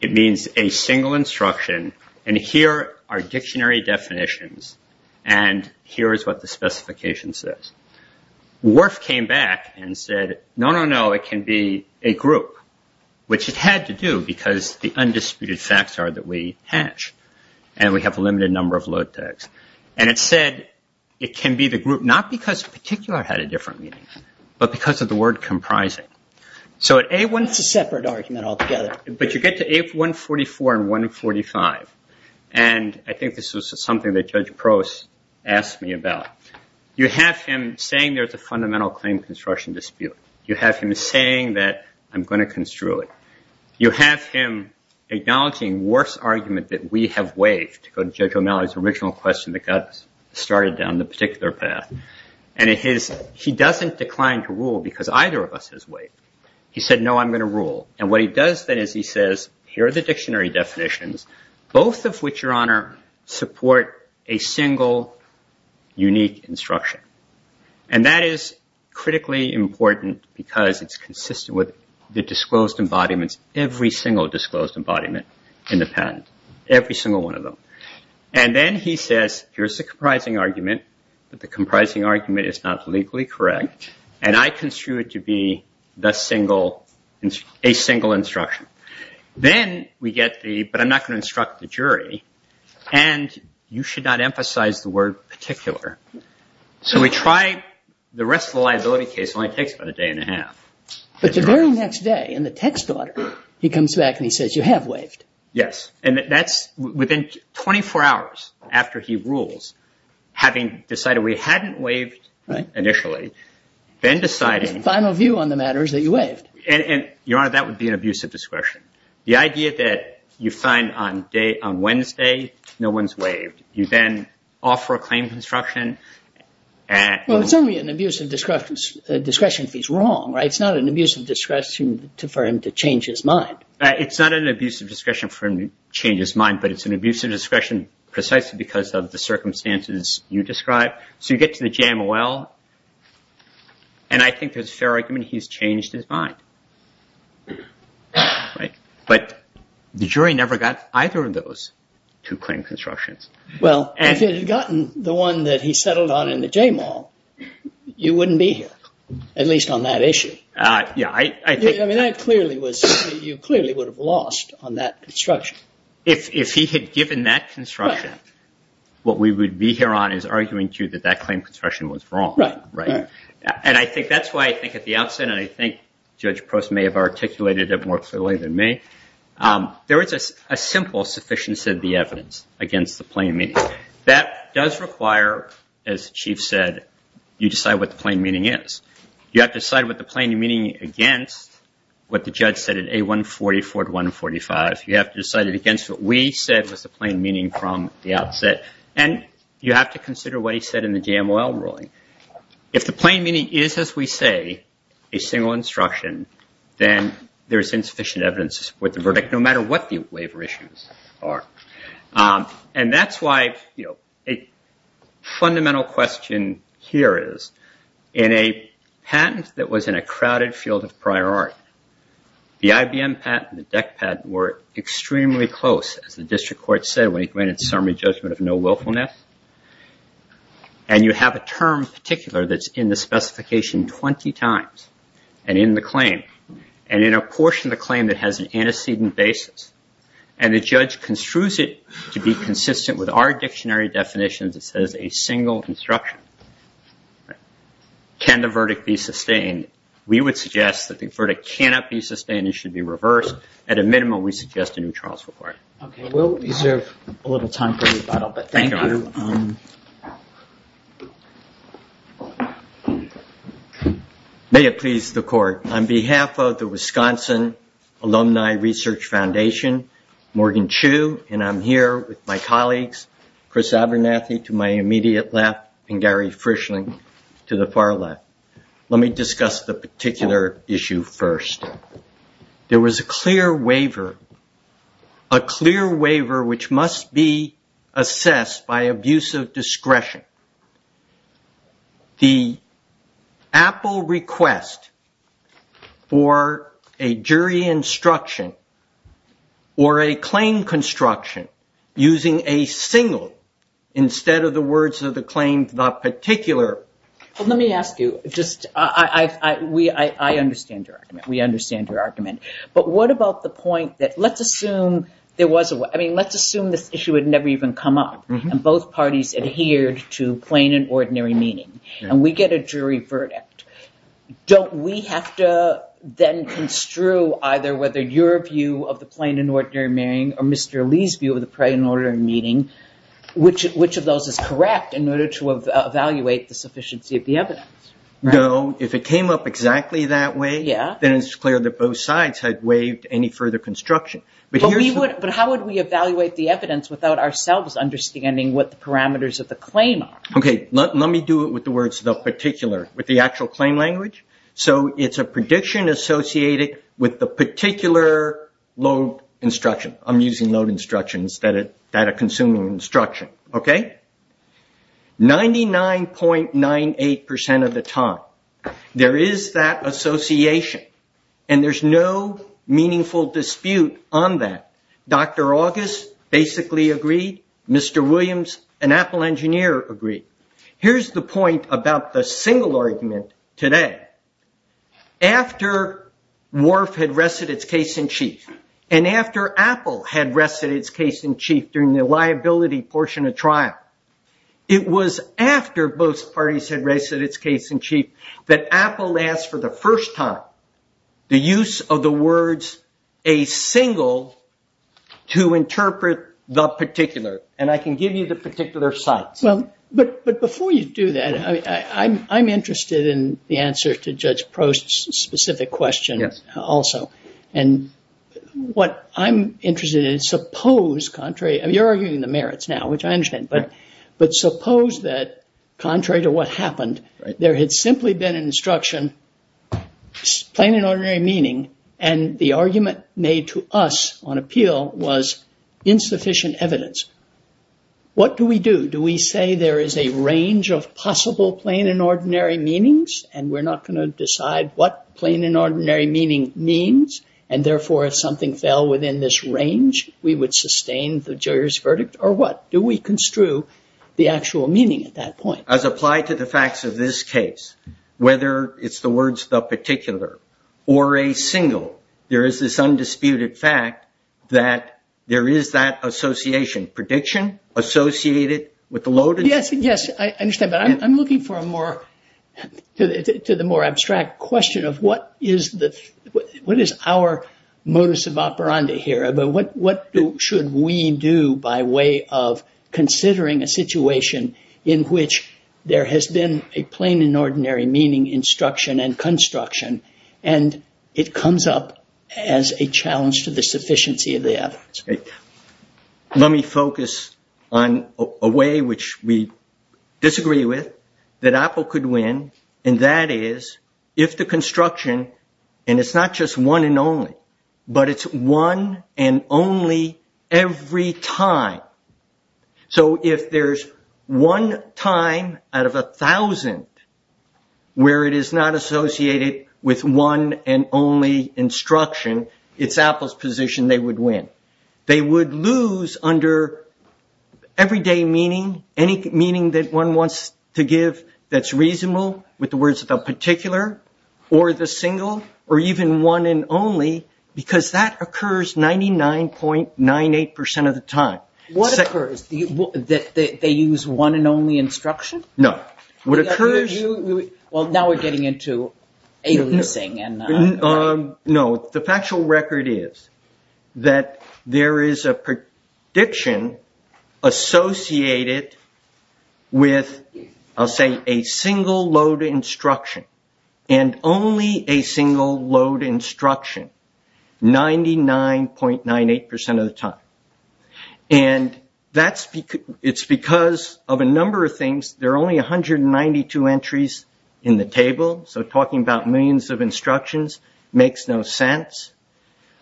it means a single instruction. And here are dictionary definitions. And here is what the specification says. Worf came back and said, no, no, no, it can be a group. Which it had to do because the undisputed facts are that we hatch. And we have a limited number of load tags. And it said it can be the group, not because particular had a different meaning, but because of the word comprising. So A1 is a separate argument altogether. But you get to A144 and 145. And I think this was something that Judge Pross asked me about. You have him saying there's a fundamental claim construction dispute. You have him saying that I'm going to construe it. You have him acknowledging Worf's argument that we have ways to go to Judge O'Malley's original question that got started down the particular path. And he doesn't decline to rule because either of us has ways. He said, no, I'm going to rule. And what he does then is he says, here are the dictionary definitions, both of which, Your Honor, support a single unique instruction. And that is critically important because it's consistent with the disclosed embodiments, every single disclosed embodiment in the patent, every single one of them. And then he says, here's the comprising argument, but the comprising argument is not legally correct. And I construe it to be a single instruction. Then we get the, but I'm not going to instruct the jury. And you should not emphasize the word particular. So we try the rest of the liability case only takes about a day and a half. But the very next day in the text, he comes back and he says, you have waived. Yes. And that's within 24 hours after he rules, having decided we hadn't waived initially, then deciding. Final view on the matter is that you waived. And Your Honor, that would be an abuse of discretion. The idea that you find on Wednesday, no one's waived. You then offer a claim to instruction. Well, it's only an abuse of discretion if he's wrong. It's not an abuse of discretion for him to change his mind. It's not an abuse of discretion for him to change his mind, but it's an abuse of discretion precisely because of the circumstances you describe. So you get to the jam well. And I think it's a fair argument. He's changed his mind. Right. But the jury never got either of those two claim constructions. Well, if he had gotten the one that he settled on in the jam well, you wouldn't be here, at least on that issue. Yeah, I mean, I clearly was. You clearly would have lost on that construction. If he had given that construction, what we would be here on is arguing to that that claim construction was wrong. Right. And I think that's why I think at the outset, and I think Judge Post may have articulated it more clearly than me. There is a simple sufficiency of the evidence against the plain meaning that does require, as the chief said, you decide what the plain meaning is. You have to decide what the plain meaning against what the judge said in a 144 to 145. You have to decide it against what we said was the plain meaning from the outset. And you have to consider what he said in the jam well ruling. If the plain meaning is, as we say, a single instruction, then there's insufficient evidence with the verdict, no matter what the waiver issues are. And that's why, you know, a fundamental question here is in a patent that was in a crowded field of prior art. The IBM patent and the Beck patent were extremely close. The district court said we granted summary judgment of no willfulness. And you have a term particular that's in the specification 20 times and in the claim and in a portion of the claim that has an antecedent basis. And the judge construes it to be consistent with our dictionary definitions. It says a single construction. Can the verdict be sustained? We would suggest that the verdict cannot be sustained. It should be reversed. At a minimum, we suggest a new trial support. May it please the court. On behalf of the Wisconsin Alumni Research Foundation, Morgan Chu, and I'm here with my colleagues, Chris Abernathy to my immediate left and Gary Frischling to the far left. Let me discuss the particular issue first. There was a clear waiver. A clear waiver which must be assessed by abuse of discretion. The Apple request for a jury instruction or a claim construction using a single instead of the words of the claims not particular. Let me ask you. I understand your argument. We understand your argument. But what about the point that let's assume there was a way. I mean, let's assume this issue had never even come up. And both parties adhered to plain and ordinary meaning. And we get a jury verdict. Don't we have to then construe either whether your view of the plain and ordinary meaning or Mr. Lee's view of the plain and ordinary meaning, which of those is correct in order to evaluate the sufficiency of the evidence? No. If it came up exactly that way, then it's clear that both sides had waived any further construction. But how would we evaluate the evidence without ourselves understanding what the parameters of the claim are? Okay. Let me do it with the words of the particular, with the actual claim language. So, it's a prediction associated with the particular load instruction. I'm using load instruction instead of data-consuming instruction. Okay? 99.98% of the time, there is that association. And there's no meaningful dispute on that. Dr. August basically agreed. Mr. Williams, an Apple engineer, agreed. Here's the point about the single argument today. After Wharf had wrested its case in chief and after Apple had wrested its case in chief during the liability portion of trial, it was after both parties had wrested its case in chief that Apple asked for the first time the use of the words a single to interpret the particular. And I can give you the particular side. But before you do that, I'm interested in the answer to Judge Prost's specific question also. And what I'm interested in, suppose contrary, you're arguing the merits now, which I understand. But suppose that contrary to what happened, there had simply been an instruction, plain and ordinary meaning, and the argument made to us on appeal was insufficient evidence. What do we do? Do we say there is a range of possible plain and ordinary meanings? And we're not going to decide what plain and ordinary meaning means. And therefore, if something fell within this range, we would sustain the jury's verdict. Or what? Do we construe the actual meaning at that point? As applied to the facts of this case, whether it's the words the particular or a single, there is this undisputed fact that there is that association. Prediction associated with the loaded... Yes, I understand. But I'm looking for a more, to the more abstract question of what is our modus operandi here? What should we do by way of considering a situation in which there has been a plain and ordinary meaning instruction and construction, and it comes up as a challenge to the sufficiency of the evidence? Let me focus on a way which we disagree with, that Apple could win, and that is if the construction, and it's not just one and only, but it's one and only every time. So, if there's one time out of a thousand where it is not associated with one and only instruction, it's Apple's position they would win. They would lose under everyday meaning, any meaning that one wants to give that's reasonable with the words the particular or the single, or even one and only, because that occurs 99.98% of the time. What occurs? They use one and only instruction? No. What occurs? Well, now we're getting into a losing. No, the factual record is that there is a prediction associated with, I'll say, a single load instruction, and only a single load instruction 99.98% of the time. And it's because of a number of things. There are only 192 entries in the table, so talking about millions of instructions makes no sense.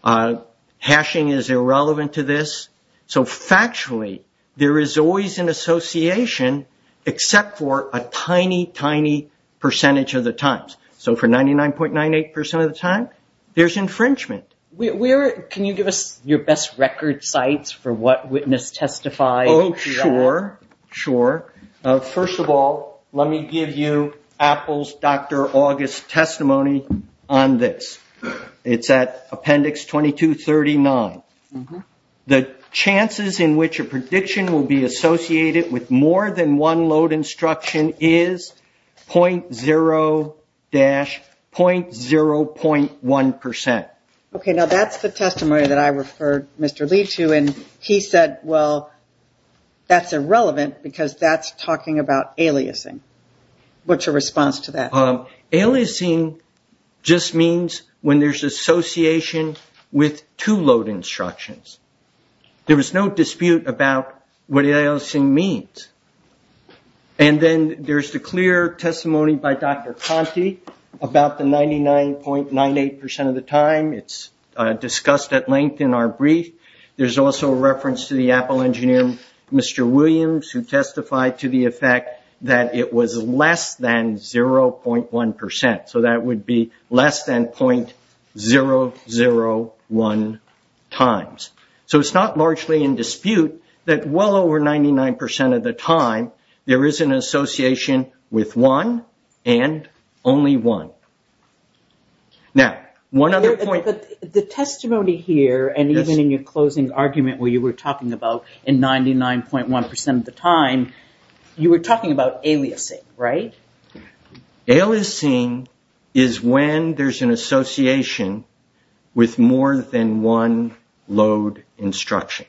Hashing is irrelevant to this. So, factually, there is always an association except for a tiny, tiny percentage of the times. So, for 99.98% of the time, there's infringement. Can you give us your best record sites for what witness testified? Oh, sure, sure. First of all, let me give you Apple's Dr. August's testimony on this. It's at Appendix 2239. The chances in which a prediction will be associated with more than one load instruction is .0-.0.1%. Okay, now that's the testimony that I referred Mr. Lee to, and he said, well, that's irrelevant because that's talking about aliasing. What's your response to that? Aliasing just means when there's association with two load instructions. There was no dispute about what aliasing means. And then there's the clear testimony by Dr. Conte about the 99.98% of the time. It's discussed at length in our brief. There's also a reference to the Apple engineer, Mr. Williams, who testified to the effect that it was less than 0.1%. So, that would be less than .001 times. So, it's not largely in dispute that well over 99% of the time, there is an association with one and only one. Now, one other point. The testimony here, and even in your closing argument where you were talking about a 99.1% of the time, you were talking about aliasing, right? Aliasing is when there's an association with more than one load instruction.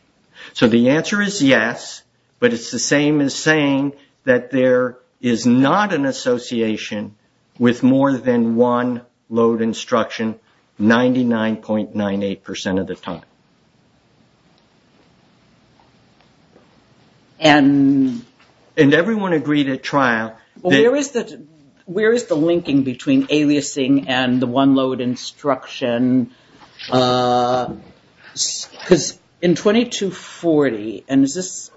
So, the answer is yes, but it's the same as saying that there is not an association with more than one load instruction 99.98% of the time. And everyone agreed at trial. Where is the linking between aliasing and the one load instruction? Because in 2240, and is this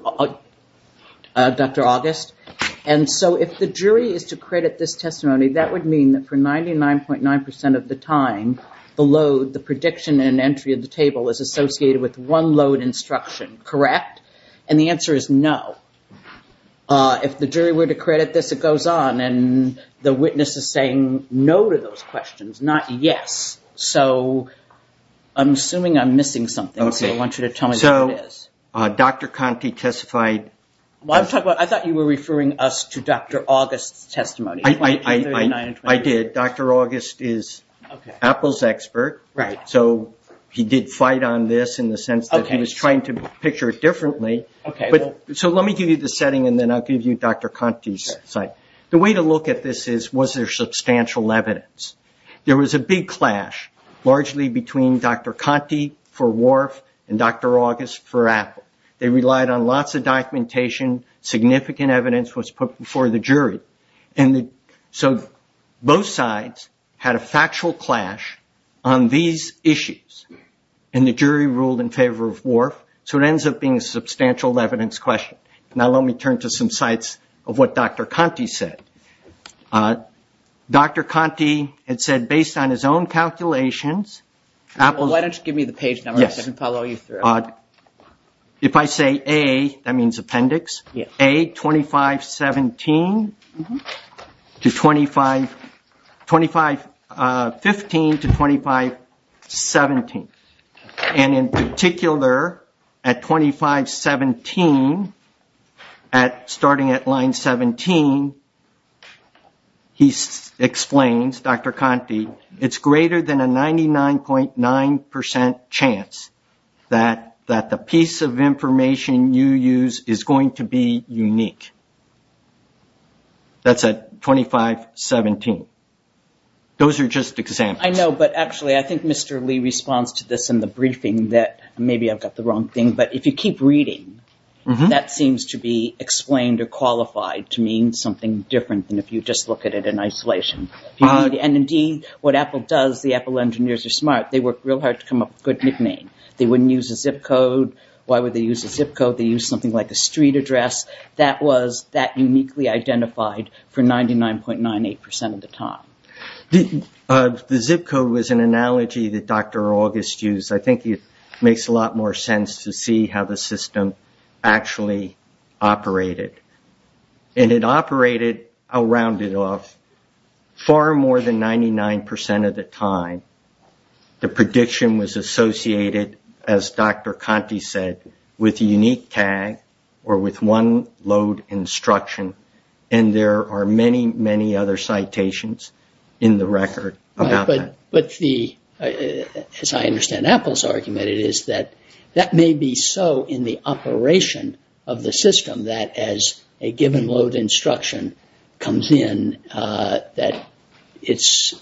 Dr. August? And so, if the jury is to credit this testimony, that would mean that for 99.9% of the time, the load, the prediction and entry of the table is associated with one load instruction, correct? And the answer is no. If the jury were to credit this, it goes on, and the witness is saying no to those questions, not yes. So, I'm assuming I'm missing something. I want you to tell me what it is. Dr. Conte testified. I thought you were referring us to Dr. August's testimony. I did. Dr. August is Apple's expert. Right. So, he did fight on this in the sense that he was trying to picture it differently. So, let me give you the setting, and then I'll give you Dr. Conte's side. The way to look at this is, was there substantial evidence? There was a big clash, largely between Dr. Conte for Wharf and Dr. August for Apple. They relied on lots of documentation. Significant evidence was put before the jury. And so, both sides had a factual clash on these issues, and the jury ruled in favor of Wharf. So, it ends up being a substantial evidence question. Now, let me turn to some sites of what Dr. Conte said. Dr. Conte had said, based on his own calculations, Apple- Why don't you give me the page number so I can follow you through. Yes. If I say A, that means appendix. Yes. A, 2517 to 25- 2515 to 2517. And in particular, at 2517, starting at line 17, he explains, Dr. Conte, it's greater than a 99.9% chance that the piece of information you use is going to be unique. That's at 2517. Those are just examples. I know, but actually, I think Mr. Lee responds to this in the briefing that maybe I've got the wrong thing, but if you keep reading, that seems to be explained or qualified to mean something different than if you just look at it in isolation. And indeed, what Apple does, the Apple engineers are smart. They work real hard to come up with a good nickname. They wouldn't use a zip code. Why would they use a zip code? They use something like a street address. That was that uniquely identified for 99.98% of the time. The zip code was an analogy that Dr. August used. I think it makes a lot more sense to see how the system actually operated. And it operated, I'll round it off, far more than 99% of the time. The prediction was associated, as Dr. Conte said, with a unique tag or with one load instruction, and there are many, many other citations in the record about that. As I understand Apple's argument, it is that that may be so in the operation of the system that as a given load instruction comes in, it's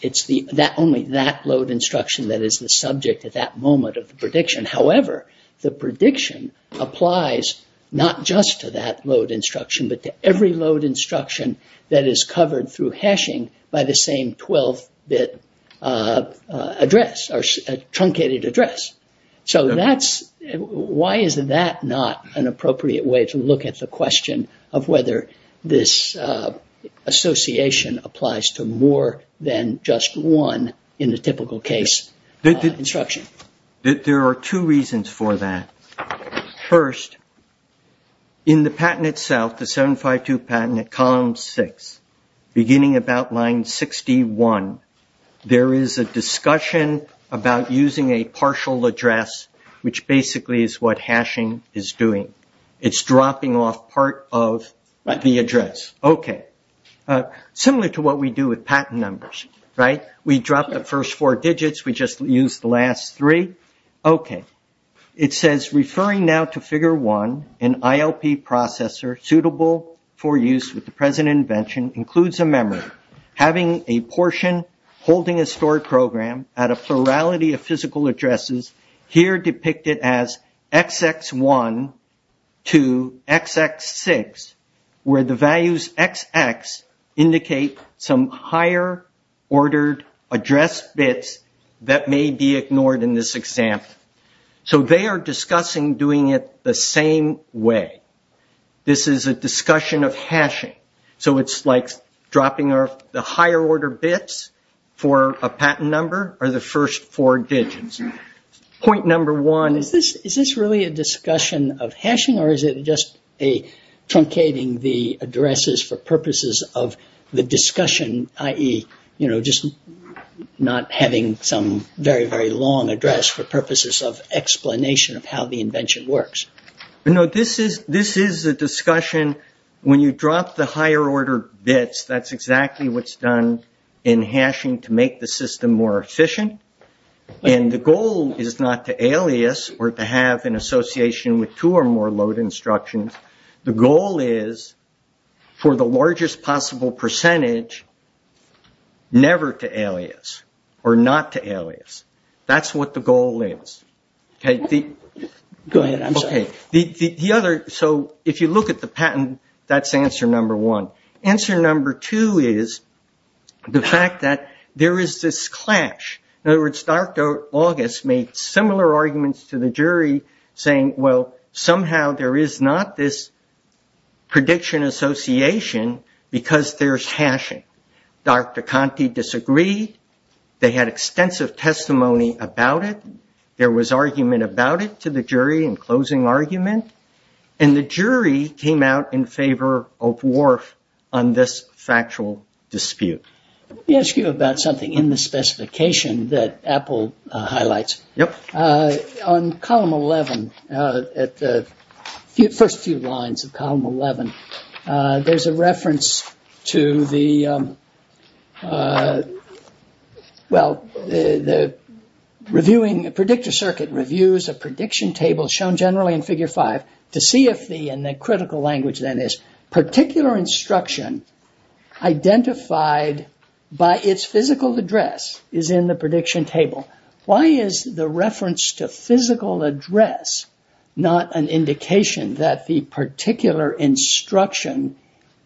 only that load instruction that is the subject at that moment of the prediction. However, the prediction applies not just to that load instruction, but to every load instruction that is covered through hashing by the same 12-bit address, or truncated address. Why is that not an appropriate way to look at the question of whether this association applies to more than just one, in the typical case, instruction? There are two reasons for that. First, in the patent itself, the 752 patent at column 6, beginning about line 61, there is a discussion about using a partial address, which basically is what hashing is doing. It's dropping off part of the address. Similar to what we do with patent numbers. We drop the first four digits, we just use the last three. It says, referring now to figure 1, an ILP processor suitable for use with the present invention includes a memory. Having a portion holding a stored program at a plurality of physical addresses, here depicted as XX1 to XX6, where the values XX indicate some higher ordered address bit that may be ignored in this example. They are discussing doing it the same way. This is a discussion of hashing. It's like dropping off the higher order bits for a patent number, or the first four digits. Point number one, is this really a discussion of hashing, or is it just truncating the addresses for purposes of the discussion, i.e., just not having some very, very long address for purposes of explanation of how the invention works? This is a discussion, when you drop the higher order bits, that's exactly what's done in hashing to make the system more efficient. The goal is not to alias, or to have an association with two or more load instructions. The goal is, for the largest possible percentage, never to alias, or not to alias. That's what the goal is. If you look at the patent, that's answer number one. Answer number two is, the fact that there is this clash. In other words, Dr. August made similar arguments to the jury, saying, well, somehow there is not this prediction association because there's hashing. Dr. Conte disagreed. They had extensive testimony about it. There was argument about it to the jury in closing argument. The jury came out in favor of Whorf on this factual dispute. Let me ask you about something in the specification that Apple highlights. On column 11, at the first few lines of column 11, there's a reference to the... Well, the predictor circuit reviews a prediction table shown generally in figure 5 to see if the, in the critical language then is, particular instruction identified by its physical address is in the prediction table. Why is the reference to physical address not an indication that the particular instruction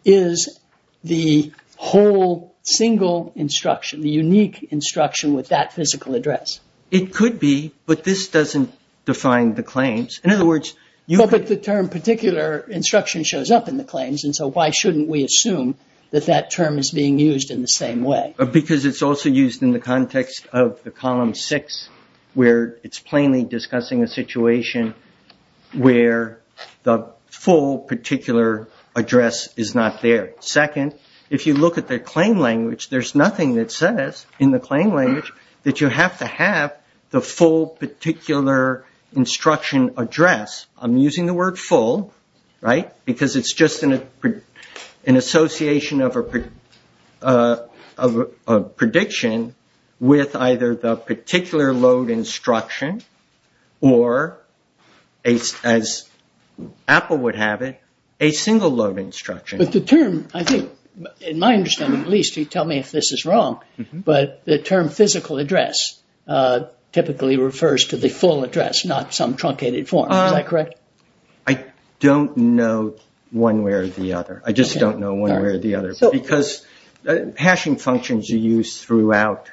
is the whole single instruction, the unique instruction with that physical address? It could be, but this doesn't define the claims. In other words, you could... But the term particular instruction shows up in the claims, and so why shouldn't we assume that that term is being used in the same way? Because it's also used in the context of the column 6, where it's plainly discussing a situation where the full particular address is not there. Second, if you look at the claim language, there's nothing that says in the claim language that you have to have the full particular instruction address. I'm using the word full, right, because it's just an association of a prediction with either the particular load instruction or, as Apple would have it, a single load instruction. But the term, I think, in my understanding at least, you tell me if this is wrong, but the term physical address typically refers to the full address, not some truncated form. Is that correct? I don't know one way or the other. I just don't know one way or the other. Because hashing functions are used throughout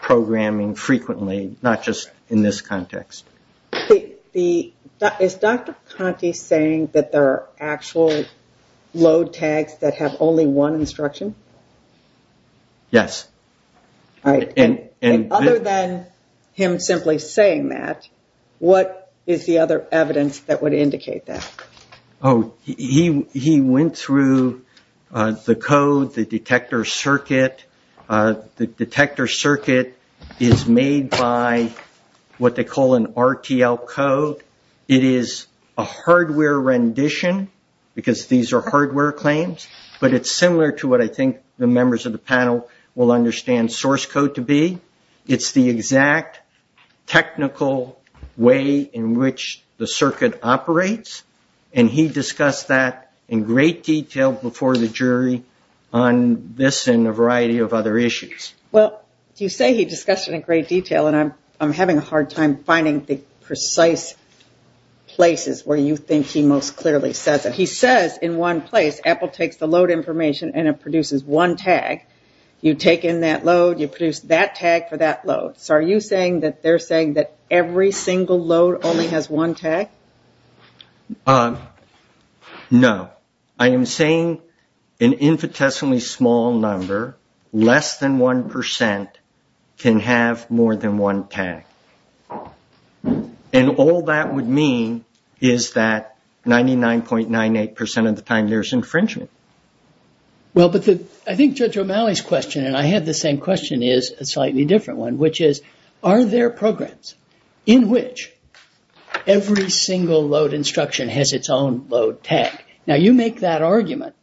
programming frequently, not just in this context. Is Dr. Conte saying that there are actual load tags that have only one instruction? Yes. Other than him simply saying that, what is the other evidence that would indicate that? He went through the code, the detector circuit. The detector circuit is made by what they call an RTL code. It is a hardware rendition because these are hardware claims, but it's similar to what I think the members of the panel will understand source code to be. It's the exact technical way in which the circuit operates, and he discussed that in great detail before the jury on this and a variety of other issues. Well, you say he discussed it in great detail, and I'm having a hard time finding the precise places where you think he most clearly says it. He says in one place Apple takes the load information and it produces one tag. You take in that load, you produce that tag for that load. So are you saying that they're saying that every single load only has one tag? No. I am saying an infinitesimally small number, less than 1%, can have more than one tag. And all that would mean is that 99.98% of the time there's infringement. Well, but I think Judge O'Malley's question, and I had the same question, is a slightly different one, which is, are there programs in which every single load instruction has its own load tag? Now, you make that argument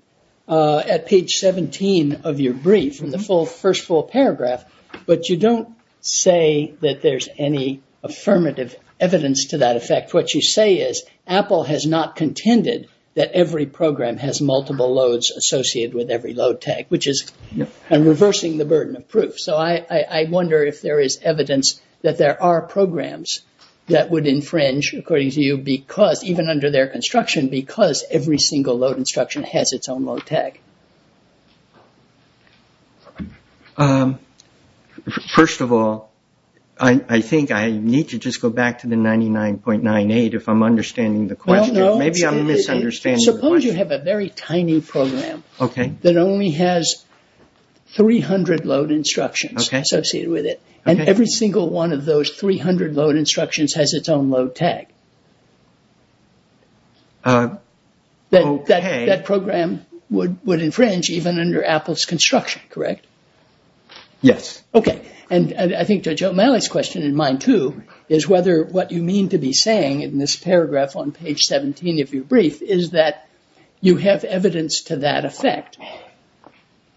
at page 17 of your brief in the first full paragraph, but you don't say that there's any affirmative evidence to that effect. What you say is Apple has not contended that every program has multiple loads associated with every load tag, which is reversing the burden of proof. So I wonder if there is evidence that there are programs that would infringe, according to you, even under their construction, because every single load instruction has its own load tag. First of all, I think I need to just go back to the 99.98% if I'm understanding the question. Maybe I'm misunderstanding. Suppose you have a very tiny program that only has 300 load instructions associated with it, and every single one of those 300 load instructions has its own load tag. That program would infringe even under Apple's construction, correct? Yes. Okay. And I think to Joe O'Malley's question in mind, too, is whether what you mean to be saying in this paragraph on page 17 of your brief is that you have evidence to that effect,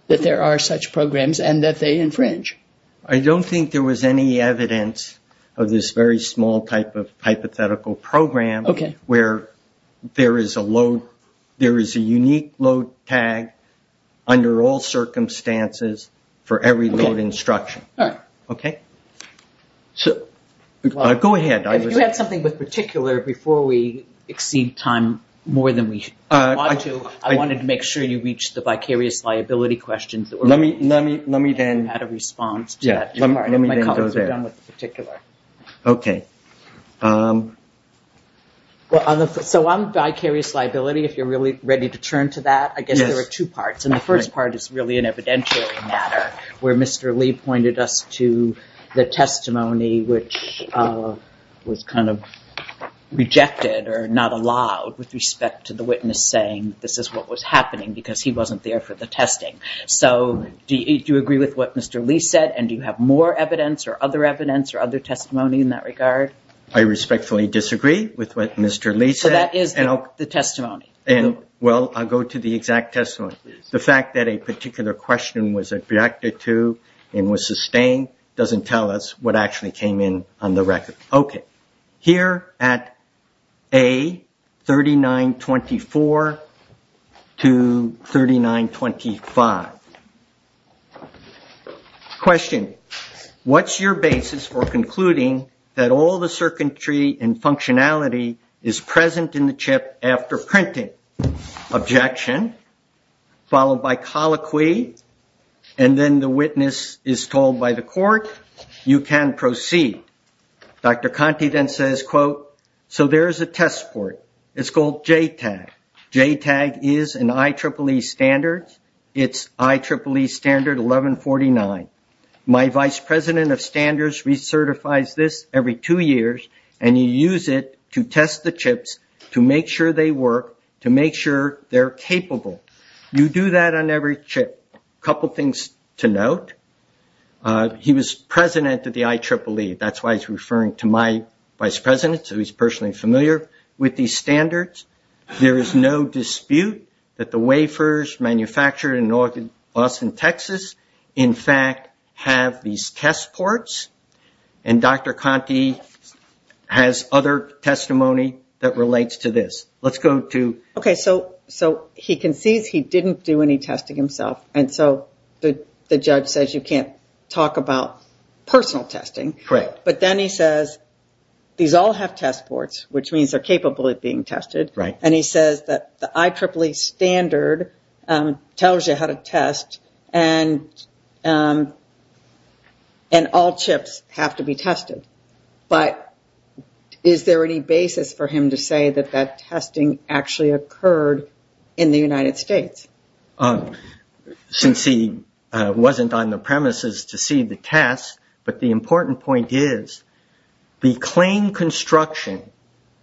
that there are such programs and that they infringe. I don't think there was any evidence of this very small type of hypothetical program. Okay. Where there is a unique load tag under all circumstances for every load instruction. All right. Okay? So, go ahead. If you have something in particular, before we exceed time more than we ought to, I wanted to make sure you reached the vicarious liability questions. Let me then. I had a response to that. Let me then go there. I didn't want to sit down with the particular. Okay. So, on vicarious liability, if you're really ready to turn to that. Yes. I guess there are two parts. And the first part is really an evidentiary matter where Mr. Lee pointed us to the testimony which was kind of rejected or not allowed with respect to the witness saying this is what was happening because he wasn't there for the testing. So, do you agree with what Mr. Lee said? And do you have more evidence or other evidence or other testimony in that regard? I respectfully disagree with what Mr. Lee said. So, that is the testimony. Well, I'll go to the exact testimony. The fact that a particular question was rejected too and was sustained doesn't tell us what actually came in on the record. Okay. Here at A, 3924 to 3925. Question. What's your basis for concluding that all the circuitry and functionality is present in the chip after printing? Objection. Followed by colloquy. And then the witness is told by the court, you can proceed. Dr. Conte then says, quote, so there is a test for it. It's called JTAG. JTAG is an IEEE standard. It's IEEE standard 1149. My vice president of standards recertifies this every two years and you use it to test the chips to make sure they work, to make sure they're capable. You do that on every chip. A couple things to note. He was president of the IEEE. That's why he's referring to my vice president. So, he's personally familiar with these standards. There is no dispute that the wafers manufactured in northern Boston, Texas, in fact, have these test ports. And Dr. Conte has other testimony that relates to this. Let's go to... Okay. So, he concedes he didn't do any testing himself. And so, the judge says you can't talk about personal testing. Correct. But then he says these all have test ports, which means they're capable of being tested. Right. And he says that the IEEE standard tells you how to test and all chips have to be tested. But is there any basis for him to say that that testing actually occurred in the United States? Since he wasn't on the premises to see the test, but the important point is the claim construction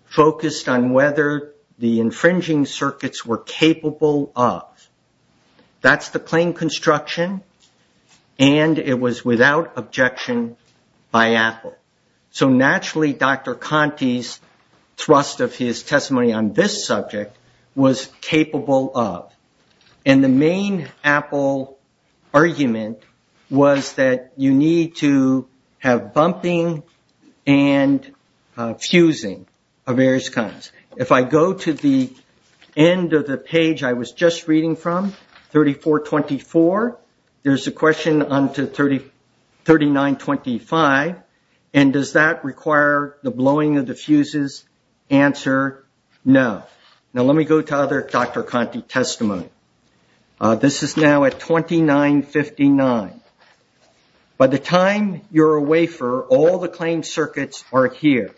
focused on whether the infringing circuits were capable of. That's the claim construction. And it was without objection by Apple. So, naturally, Dr. Conte's thrust of his testimony on this subject was capable of. And the main Apple argument was that you need to have bumping and fusing of various kinds. If I go to the end of the page I was just reading from, 3424, there's a question on to 3925. And does that require the blowing of the fuses? Answer, no. Now, let me go to other Dr. Conte testimony. This is now at 2959. By the time you're a wafer, all the claim circuits are here.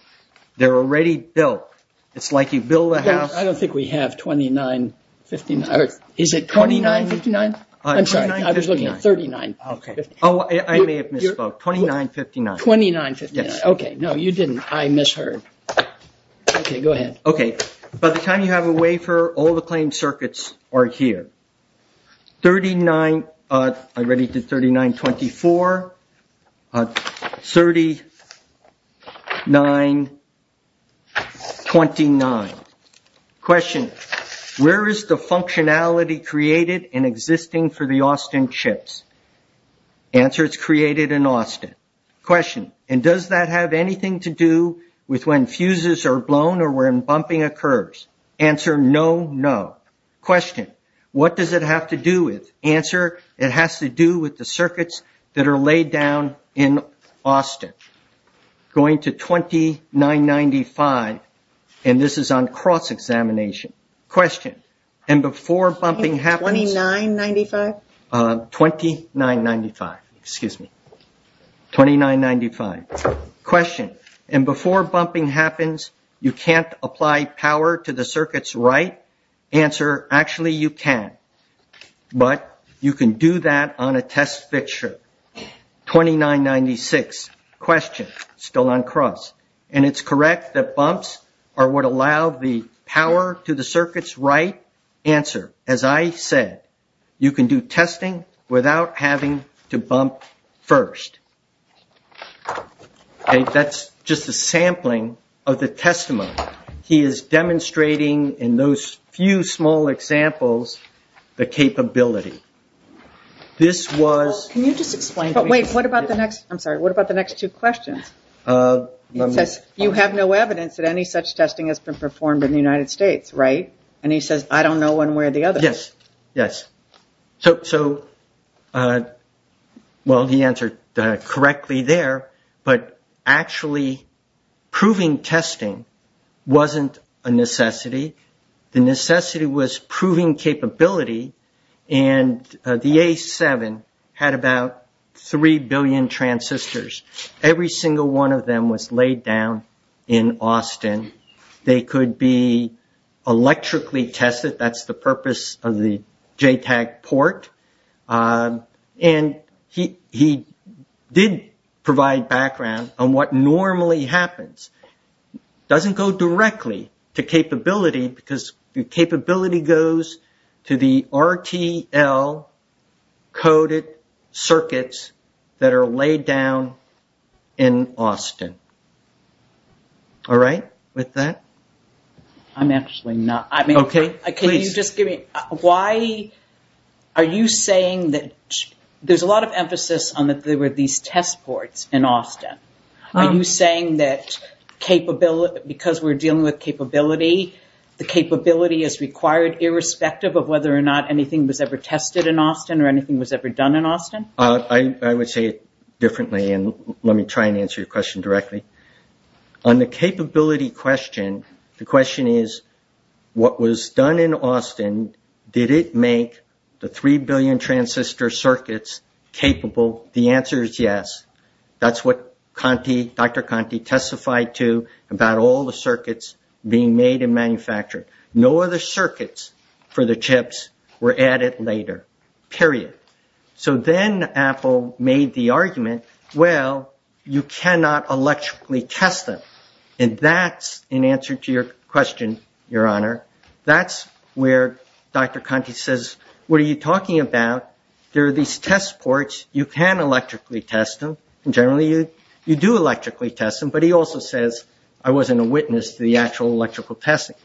They're already built. It's like you build a house. I don't think we have 2959. Is it 2959? I'm sorry. I was looking at 3959. Oh, I may have missed both. 2959. 2959. Okay. No, you didn't. I misheard. Okay, go ahead. Okay. By the time you have a wafer, all the claim circuits are here. I already did 3924. 3929. Question, where is the functionality created and existing for the Austin chips? Answer, it's created in Austin. Question, and does that have anything to do with when fuses are blown or when bumping occurs? Answer, no, no. Question, what does it have to do with? Answer, it has to do with the circuits that are laid down in Austin. Going to 2995, and this is on cross-examination. Question, and before bumping happens. 2995? 2995, excuse me. 2995. Question, and before bumping happens, you can't apply power to the circuits, right? Answer, actually you can, but you can do that on a test fixture. 2996. Question, still on cross, and it's correct that bumps are what allow the power to the circuits, right? Answer, as I said, you can do testing without having to bump first. That's just a sampling of the testimony. He is demonstrating in those few small examples the capability. This was- Can you just explain- Wait, what about the next, I'm sorry, what about the next two questions? You have no evidence that any such testing has been performed in the United States, right? And he says, I don't know one way or the other. Yes, yes. So, well, the answer correctly there, but actually proving testing wasn't a necessity. The necessity was proving capability, and the A7 had about 3 billion transistors. Every single one of them was laid down in Austin. They could be electrically tested. That's the purpose of the JTAG port. And he did provide background on what normally happens. It doesn't go directly to capability, because the capability goes to the RTL coded circuits that are laid down in Austin. All right, with that? I'm actually not- Okay, please. Can you just give me- Why are you saying that- There's a lot of emphasis on that there were these test ports in Austin. Are you saying that because we're dealing with capability, the capability is required irrespective of whether or not anything was ever tested in Austin or anything was ever done in Austin? I would say it differently, and let me try and answer your question directly. On the capability question, the question is, what was done in Austin, did it make the 3 billion transistor circuits capable? The answer is yes. That's what Dr. Conte testified to about all the circuits being made and manufactured. No other circuits for the chips were added later, period. So then Apple made the argument, well, you cannot electrically test them. And that's in answer to your question, Your Honor. That's where Dr. Conte says, what are you talking about? There are these test ports. You can electrically test them. Generally, you do electrically test them. But he also says, I wasn't a witness to the actual electrical testing.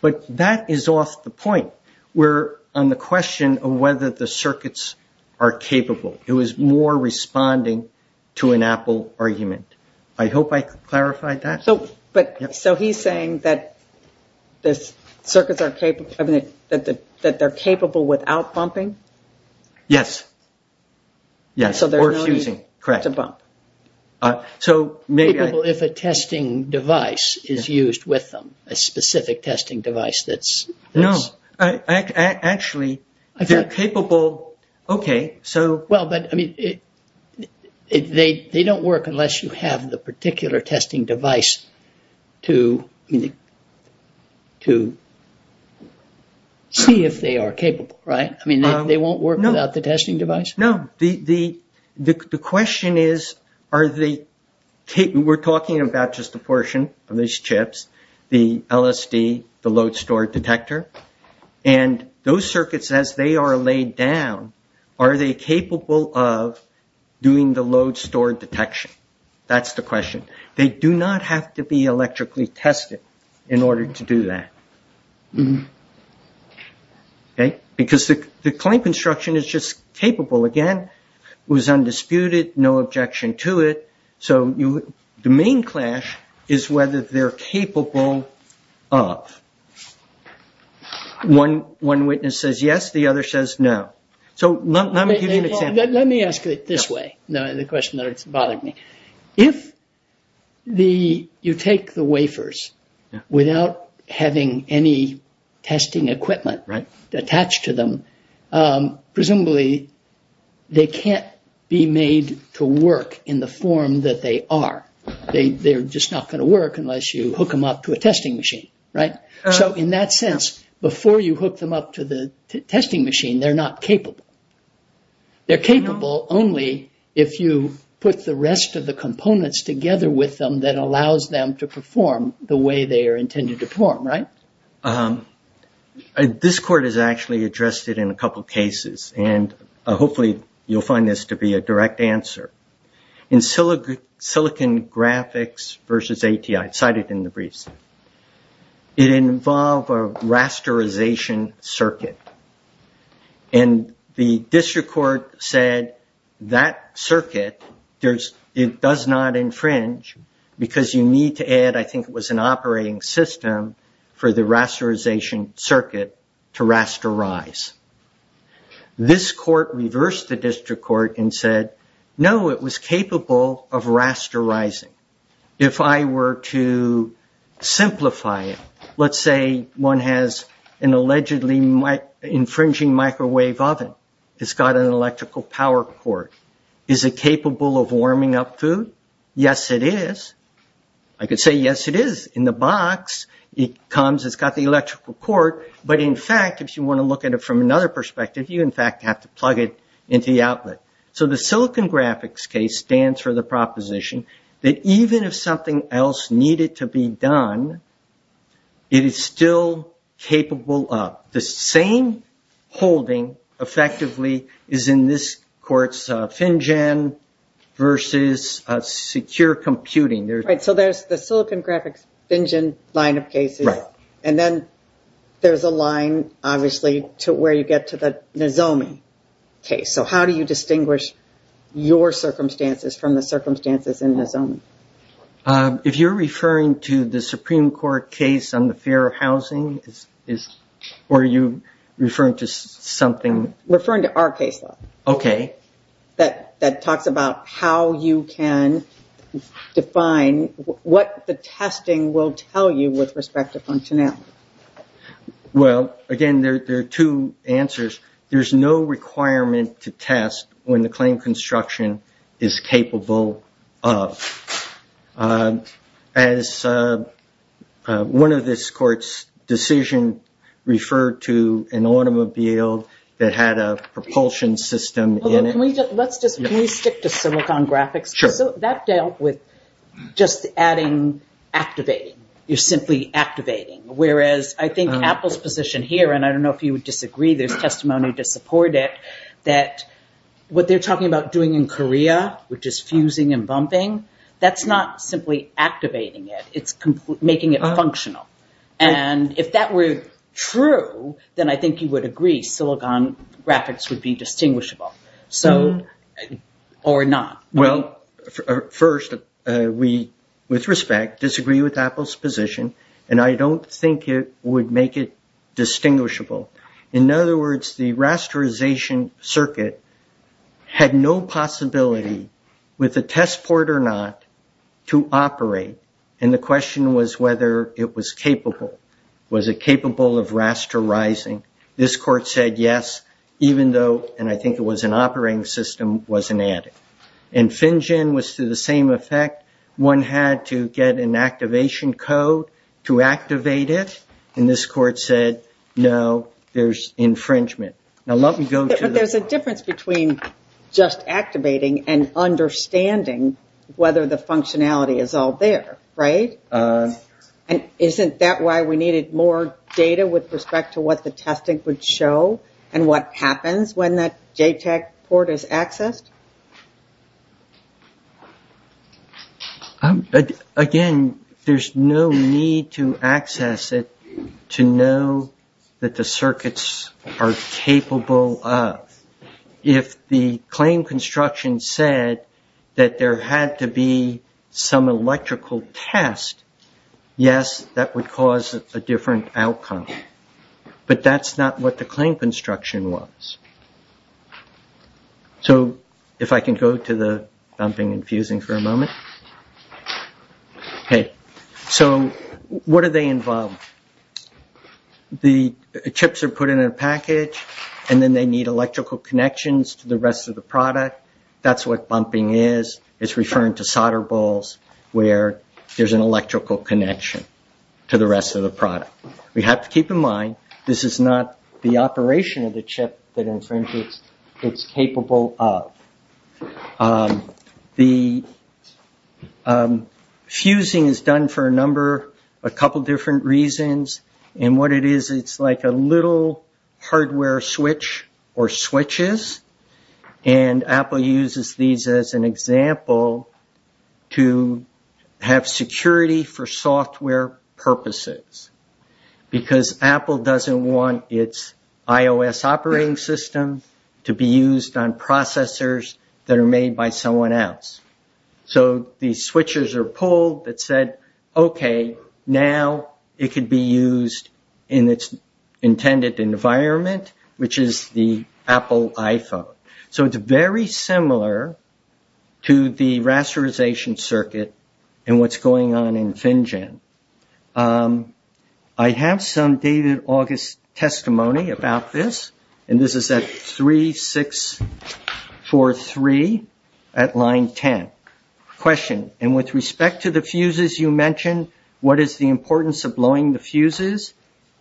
But that is off the point. We're on the question of whether the circuits are capable. It was more responding to an Apple argument. I hope I clarified that. So he's saying that the circuits are capable without bumping? Yes. Yes, or fusing. It's a bump. Capable if a testing device is used with them, a specific testing device. No. Actually, they're capable. Okay. Well, but they don't work unless you have the particular testing device to see if they are capable, right? I mean, they won't work without the testing device? No. The question is, we're talking about just a portion of these chips, the LSD, the load-store detector. And those circuits, as they are laid down, are they capable of doing the load-store detection? That's the question. They do not have to be electrically tested in order to do that. Okay. Because the client construction is just capable. Again, it was undisputed, no objection to it. So the main clash is whether they're capable of. One witness says yes, the other says no. So let me give you an example. Let me ask it this way, the question that's bothering me. If you take the wafers without having any testing equipment attached to them, presumably they can't be made to work in the form that they are. They're just not going to work unless you hook them up to a testing machine, right? So in that sense, before you hook them up to the testing machine, they're not capable. They're capable only if you put the rest of the components together with them that allows them to perform the way they are intended to perform, right? This court has actually addressed it in a couple of cases, and hopefully you'll find this to be a direct answer. In silicon graphics versus ATI, cited in the briefs, it involved a rasterization circuit. And the district court said that circuit does not infringe because you need to add, I think it was an operating system, for the rasterization circuit to rasterize. This court reversed the district court and said, no, it was capable of rasterizing. If I were to simplify it, let's say one has an allegedly infringing microwave oven. It's got an electrical power port. Is it capable of warming up food? Yes, it is. I could say yes, it is. In the box, it comes, it's got the electrical port, but in fact, if you want to look at it from another perspective, you in fact have to plug it into the outlet. So the silicon graphics case stands for the proposition that even if something else needed to be done, it is still capable of. The same holding, effectively, is in this court's FinGen versus secure computing. Right, so there's the silicon graphics FinGen line of cases, and then there's a line, obviously, to where you get to the Nozomi case. Okay, so how do you distinguish your circumstances from the circumstances in Nozomi? If you're referring to the Supreme Court case on the fear of housing, or are you referring to something? Referring to our case law. Okay. That talked about how you can define what the testing will tell you with respect to functionality. Well, again, there are two answers. There's no requirement to test when the claim construction is capable of. As one of this court's decisions referred to an automobile that had a propulsion system. Can we stick to silicon graphics? Sure. That dealt with just adding activating. You're simply activating, whereas I think Apple's position here, and I don't know if you would disagree, there's testimony to support it, that what they're talking about doing in Korea, which is fusing and bumping, that's not simply activating it, it's making it functional. And if that were true, then I think you would agree silicon graphics would be distinguishable. So, or not. Well, first, we, with respect, disagree with Apple's position, and I don't think it would make it distinguishable. In other words, the rasterization circuit had no possibility, with a test port or not, to operate. And the question was whether it was capable. Was it capable of rasterizing? This court said yes, even though, and I think it was an operating system, was inadequate. And FinGen was to the same effect. One had to get an activation code to activate it, and this court said, no, there's infringement. Now, let me go to the... But there's a difference between just activating and understanding whether the functionality is all there, right? And isn't that why we needed more data with respect to what the testing would show and what happens when that JTAG port is accessed? Again, there's no need to access it to know that the circuits are capable of. If the claim construction said that there had to be some electrical test, yes, that would cause a different outcome. But that's not what the claim construction was. So, if I can go to the bumping and fusing for a moment. Okay. So, what do they involve? The chips are put in a package, and then they need electrical connections to the rest of the product. That's what bumping is. It's referring to solder balls where there's an electrical connection to the rest of the product. We have to keep in mind, this is not the operation of the chip that infringes. It's capable of. Fusing is done for a number, a couple different reasons. And what it is, it's like a little hardware switch or switches. And Apple uses these as an example to have security for software purposes because Apple doesn't want its iOS operating system to be used on processors that are made by someone else. So, the switches are pulled that said, Okay, now it could be used in its intended environment, which is the Apple iPhone. So, it's very similar to the rasterization circuit and what's going on in FinGen. I have some dated August testimony about this. And this is at 3643 at line 10. Question. And with respect to the fuses you mentioned, what is the importance of blowing the fuses?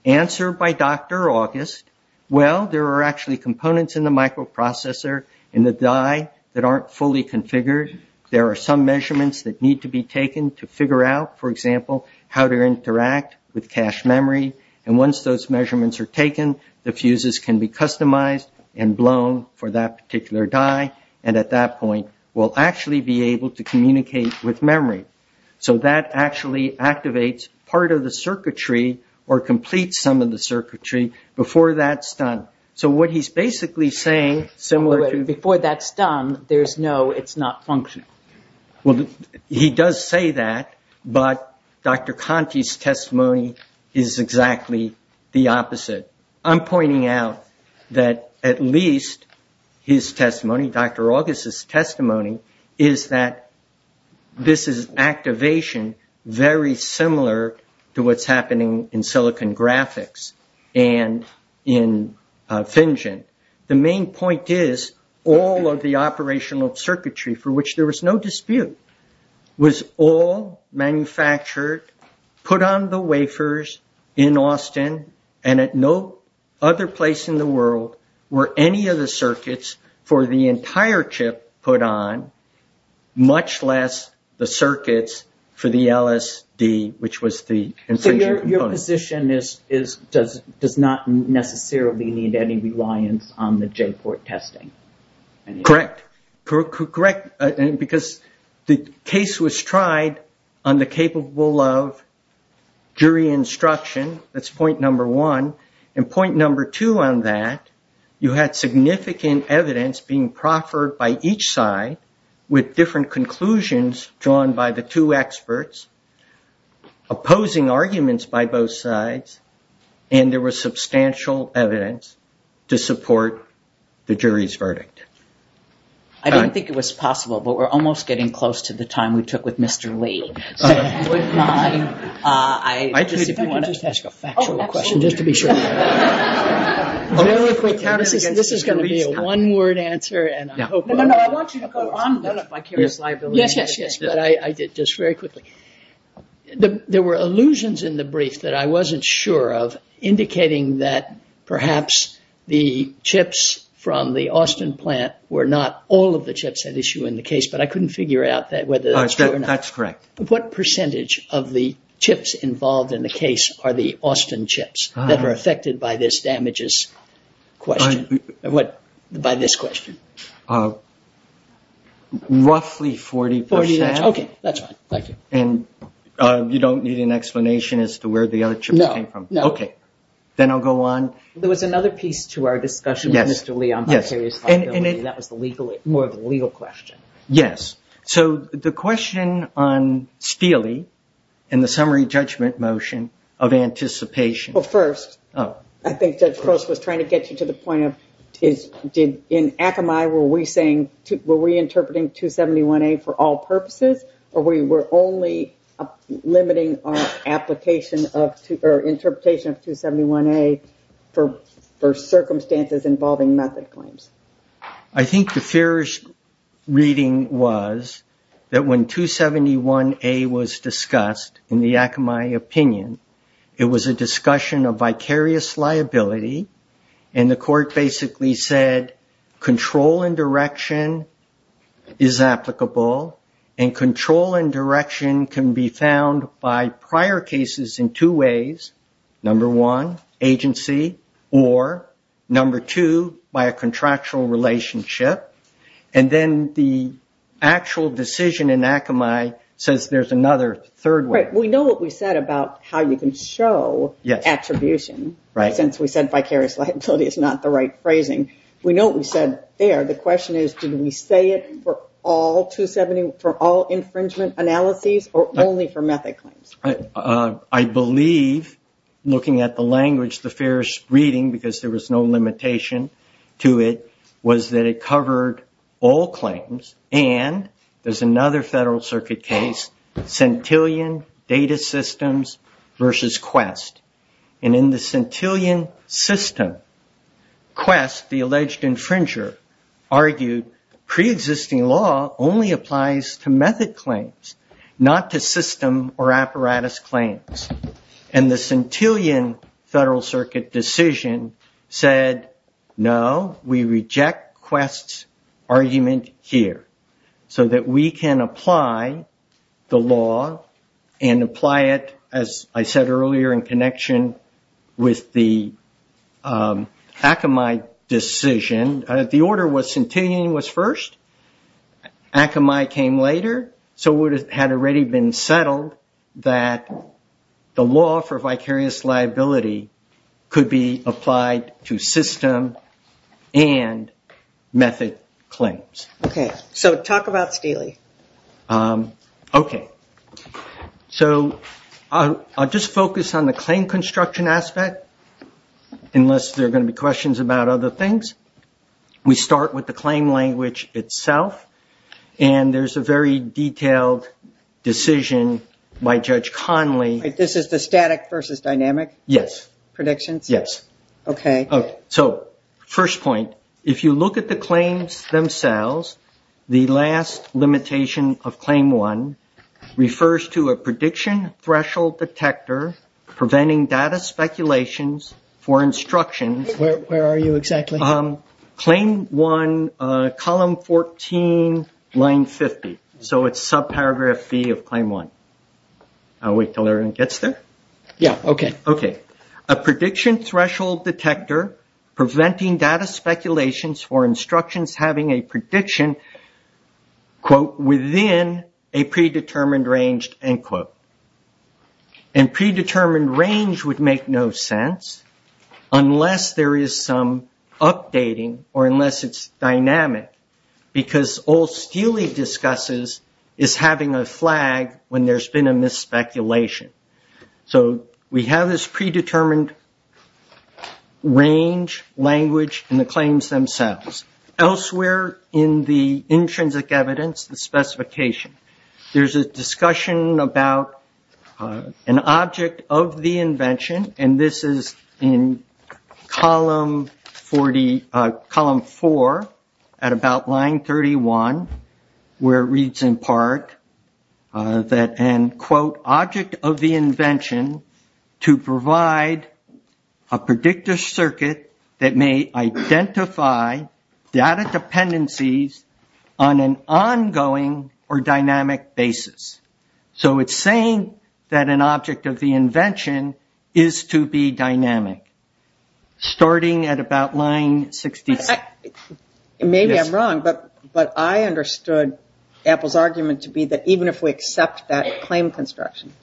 Answer by Dr. August. Well, there are actually components in the microprocessor in the die that aren't fully configured. There are some measurements that need to be taken to figure out, for example, how to interact with cache memory. And once those measurements are taken, the fuses can be customized and blown for that particular die. And at that point, we'll actually be able to communicate with memory. So, that actually activates part of the circuitry or completes some of the circuitry before that's done. So, what he's basically saying, similar to... Before that's done, there's no, it's not functional. Well, he does say that, but Dr. Conte's testimony is exactly the opposite. I'm pointing out that at least his testimony, Dr. August's testimony, is that this is activation very similar to what's happening in silicon graphics and in FinGen. The main point is all of the operational circuitry for which there was no dispute was all manufactured, put on the wafers in Austin, and at no other place in the world were any of the circuits for the entire chip put on, much less the circuits for the LSD, which was the... So, your position is, does not necessarily need any reliance on the J-port testing. Correct. Because the case was tried on the capable of jury instruction, that's point number one. And point number two on that, you had significant evidence being proffered by each side with different conclusions drawn by the two experts, opposing arguments by both sides, and there was substantial evidence to support the jury's verdict. I don't think it was possible, but we're almost getting close to the time we took with Mr. Lee. This is going to be a one-word answer, and I hope... No, no, no, I want you to go on. Yes, yes, yes. Just very quickly, there were allusions in the brief that I wasn't sure of, indicating that perhaps the chips from the Austin plant were not all of the chips at issue in the case, but I couldn't figure out whether that's true or not. That's correct. What percentage of the chips involved in the case are the Austin chips that were affected by this damages question, by this question? Roughly 40%. Okay, that's fine. Thank you. And you don't need an explanation as to where the other chips came from? No, no. Okay, then I'll go on. There was another piece to our discussion with Mr. Lee on precarious conditions, and that was more of a legal question. Yes. So the question on Steele and the summary judgment motion of anticipation... Well, first, I think that Chris was trying to get you to the point of, in Akamai, were we interpreting 271A for all purposes, or were we only limiting our interpretation of 271A for circumstances involving method claims? I think the fair reading was that when 271A was discussed, in the Akamai opinion, it was a discussion of vicarious liability, and the court basically said control and direction is applicable, and control and direction can be found by prior cases in two ways. Number one, agency, or number two, by a contractual relationship. And then the actual decision in Akamai says there's another third way. We know what we said about how we can show attribution, since we said vicarious liability is not the right phrasing. We know what we said there. The question is did we say it for all infringement analyses or only for method claims? I believe, looking at the language, the fair reading, because there was no limitation to it, was that it covered all claims, and there's another Federal Circuit case, Centillion Data Systems v. Quest. And in the Centillion System, Quest, the alleged infringer, argued preexisting law only applies to method claims, not to system or apparatus claims. And the Centillion Federal Circuit decision said no, we reject Quest's argument here, so that we can apply the law and apply it, as I said earlier, in connection with the Akamai decision. The order was Centillion was first, Akamai came later, so it had already been settled that the law for vicarious liability could be applied to system and method claims. Okay, so talk about the feeling. Okay. So I'll just focus on the claim construction aspect, unless there are going to be questions about other things. We start with the claim language itself, and there's a very detailed decision by Judge Conley. This is the static versus dynamic? Yes. Predictions? Yes. Okay. So, first point, if you look at the claims themselves, the last limitation of Claim 1 refers to a prediction threshold detector preventing data speculations for instructions. Where are you exactly? Claim 1, column 14, line 50. So it's subparagraph B of Claim 1. I'll wait until everyone gets there. Yes, okay. Okay. A prediction threshold detector preventing data speculations for instructions having a prediction, quote, within a predetermined range, end quote. And predetermined range would make no sense unless there is some updating or unless it's dynamic because all Steely discusses is having a flag when there's been a misspeculation. So we have this predetermined range language in the claims themselves. There's a discussion about an object of the invention, and this is in column 4 at about line 31 where it reads in part that, end quote, object of the invention to provide a predictor circuit that may identify data dependencies on an ongoing or dynamic basis. So it's saying that an object of the invention is to be dynamic starting at about line 65. Maybe I'm wrong, but I understood Apple's argument to be that even if we accept that claim construction,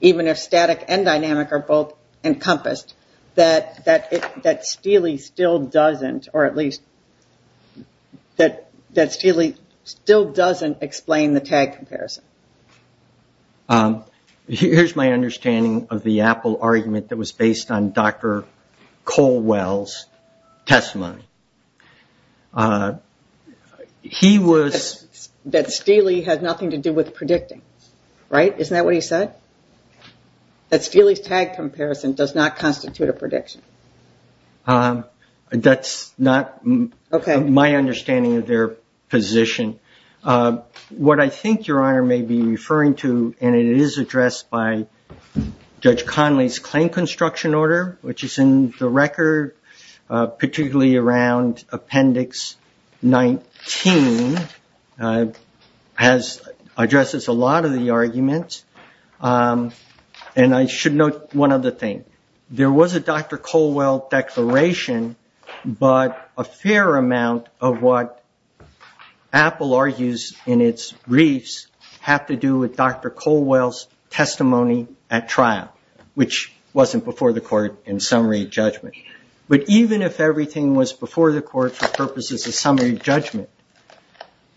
even if static and dynamic are both encompassed, that Steely still doesn't, or at least that Steely still doesn't explain the tag comparison. Here's my understanding of the Apple argument that was based on Dr. Colwell's testimony. He was... That Steely had nothing to do with predicting, right? Isn't that what he said? That Steely's tag comparison does not constitute a prediction. That's not my understanding of their position. What I think Your Honor may be referring to, and it is addressed by Judge Conley's claim construction order, which is in the record, particularly around Appendix 19, addresses a lot of the arguments. And I should note one other thing. There was a Dr. Colwell declaration, but a fair amount of what Apple argues in its briefs have to do with Dr. Colwell's testimony at trial, which wasn't before the court in summary judgment. But even if everything was before the court for purposes of summary judgment,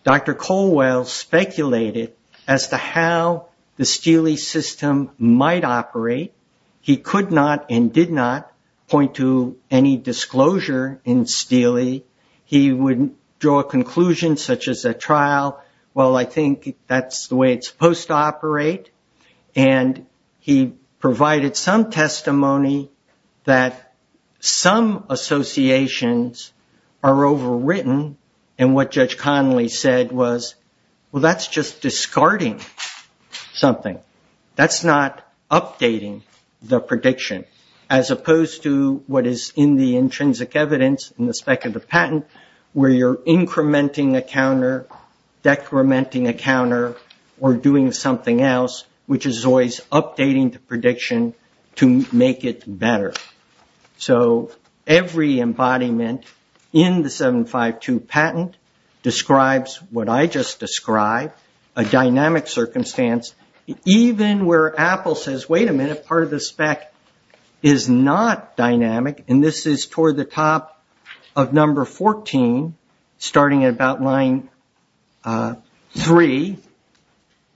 Dr. Colwell speculated as to how the Steely system might operate. He could not and did not point to any disclosure in Steely. He wouldn't draw a conclusion such as a trial. Well, I think that's the way it's supposed to operate. And he provided some testimony that some associations are overwritten. And what Judge Conley said was, well, that's just discarding something. That's not updating the prediction, as opposed to what is in the intrinsic evidence in the spec of the patent where you're incrementing a counter, decrementing a counter, or doing something else, which is always updating the prediction to make it better. So every embodiment in the 752 patent describes what I just described, a dynamic circumstance. Even where Apple says, wait a minute, part of the spec is not dynamic, and this is toward the top of number 14, starting at about line 3,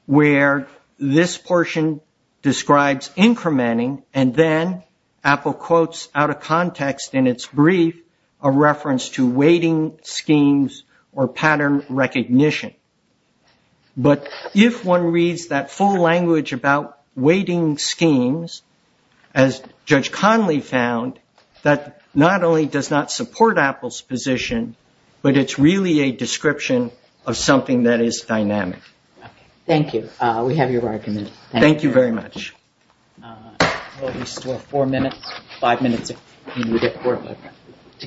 where this portion describes incrementing, and then Apple quotes out of context in its brief a reference to waiting schemes or pattern recognition. But if one reads that full language about waiting schemes, as Judge Conley found, that not only does not support Apple's position, but it's really a description of something that is dynamic. Thank you. We have your argument. Thank you very much. We'll just wait four minutes, five minutes, and we'll get forward.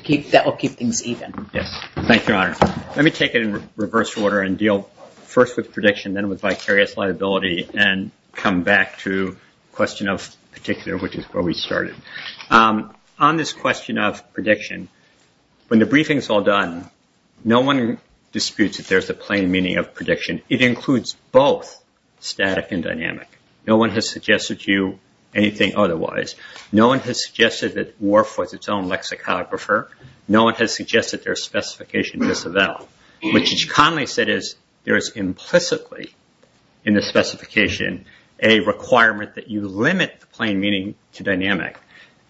Yes. Thank you, Your Honor. Let me take it in reverse order and deal first with prediction, then with vicarious liability, and come back to the question of particular, which is where we started. On this question of prediction, when the briefing is all done, no one disputes that there's a plain meaning of prediction. It includes both static and dynamic. No one has suggested to you anything otherwise. No one has suggested that WARF was its own lexicographer. No one has suggested their specification was developed. What Judge Conley said is there is implicitly in the specification a requirement that you limit the plain meaning to dynamic,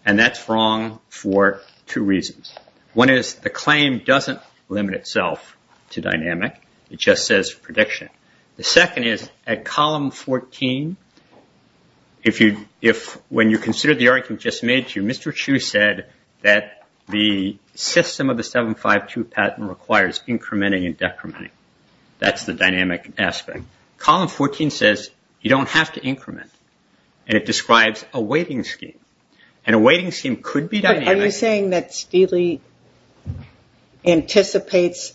and that's wrong for two reasons. One is the claim doesn't limit itself to dynamic. It just says prediction. The second is at column 14, when you consider the argument just made to you, Mr. Chu said that the system of the 752 patent requires incrementing and decrementing. That's the dynamic aspect. Column 14 says you don't have to increment, and it describes a weighting scheme, and a weighting scheme could be dynamic. Are you saying that Steely anticipates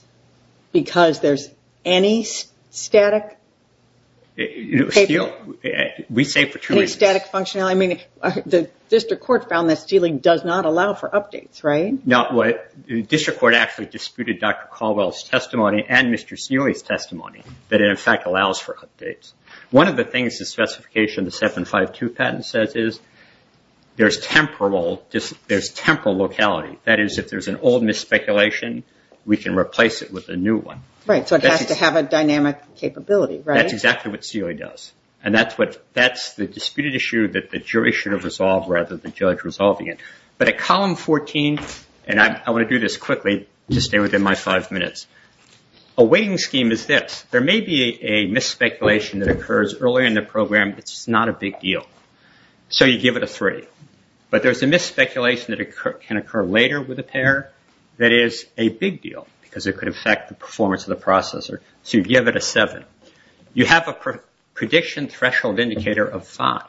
because there's any static? We say for two reasons. Any static functionality? The district court found that Steely does not allow for updates, right? No. The district court actually disputed Dr. Caldwell's testimony and Mr. Seoy's testimony that it, in fact, allows for updates. One of the things the specification of the 752 patent says is there's temporal locality, that is, if there's an old misspeculation, we can replace it with a new one. Right, so it has to have a dynamic capability, right? That's exactly what Seoy does, and that's the disputed issue that the jury should have resolved rather than the judge resolving it. But at column 14, and I want to do this quickly to stay within my five minutes, a weighting scheme is this. There may be a misspeculation that occurs early in the program. It's not a big deal, so you give it a three. But there's a misspeculation that can occur later with a pair that is a big deal because it could affect the performance of the processor, so you give it a seven. You have a prediction threshold indicator of five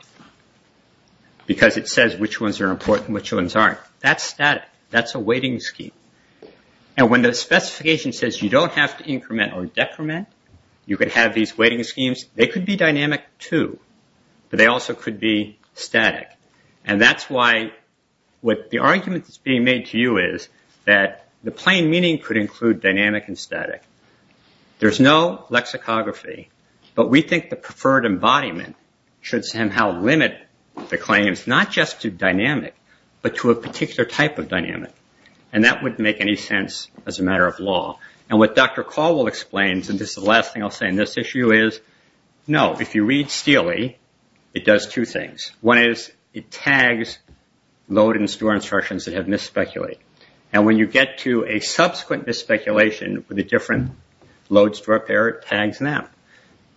because it says which ones are important and which ones aren't. That's static. That's a weighting scheme. And when the specification says you don't have to increment or decrement, you could have these weighting schemes. They could be dynamic too, but they also could be static. And that's why what the argument that's being made to you is that the plain meaning could include dynamic and static. There's no lexicography, but we think the preferred embodiment should somehow limit the claims not just to dynamic, but to a particular type of dynamic. And that wouldn't make any sense as a matter of law. And what Dr. Caldwell explains, and this is the last thing I'll say on this issue, is no, if you read Steely, it does two things. One is it tags loaded and stored instructions that have misspeculated. And when you get to a subsequent misspeculation with a different load store pair, it tags them.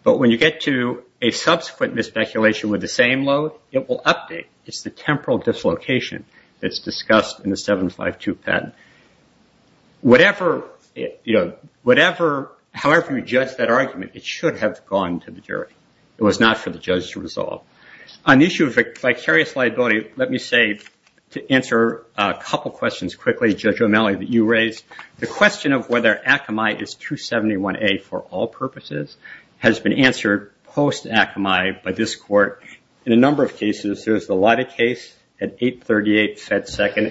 But when you get to a subsequent misspeculation with the same load, it will update. It's the temporal dislocation that's discussed in the 752 patent. However you judge that argument, it should have gone to the jury. It was not for the judge to resolve. On the issue of vicarious liability, let me save to answer a couple questions quickly, Judge O'Malley, that you raised. The question of whether Akamai is 271A for all purposes has been answered post-Akamai by this court. In a number of cases, there's a lot of case at 838 said second,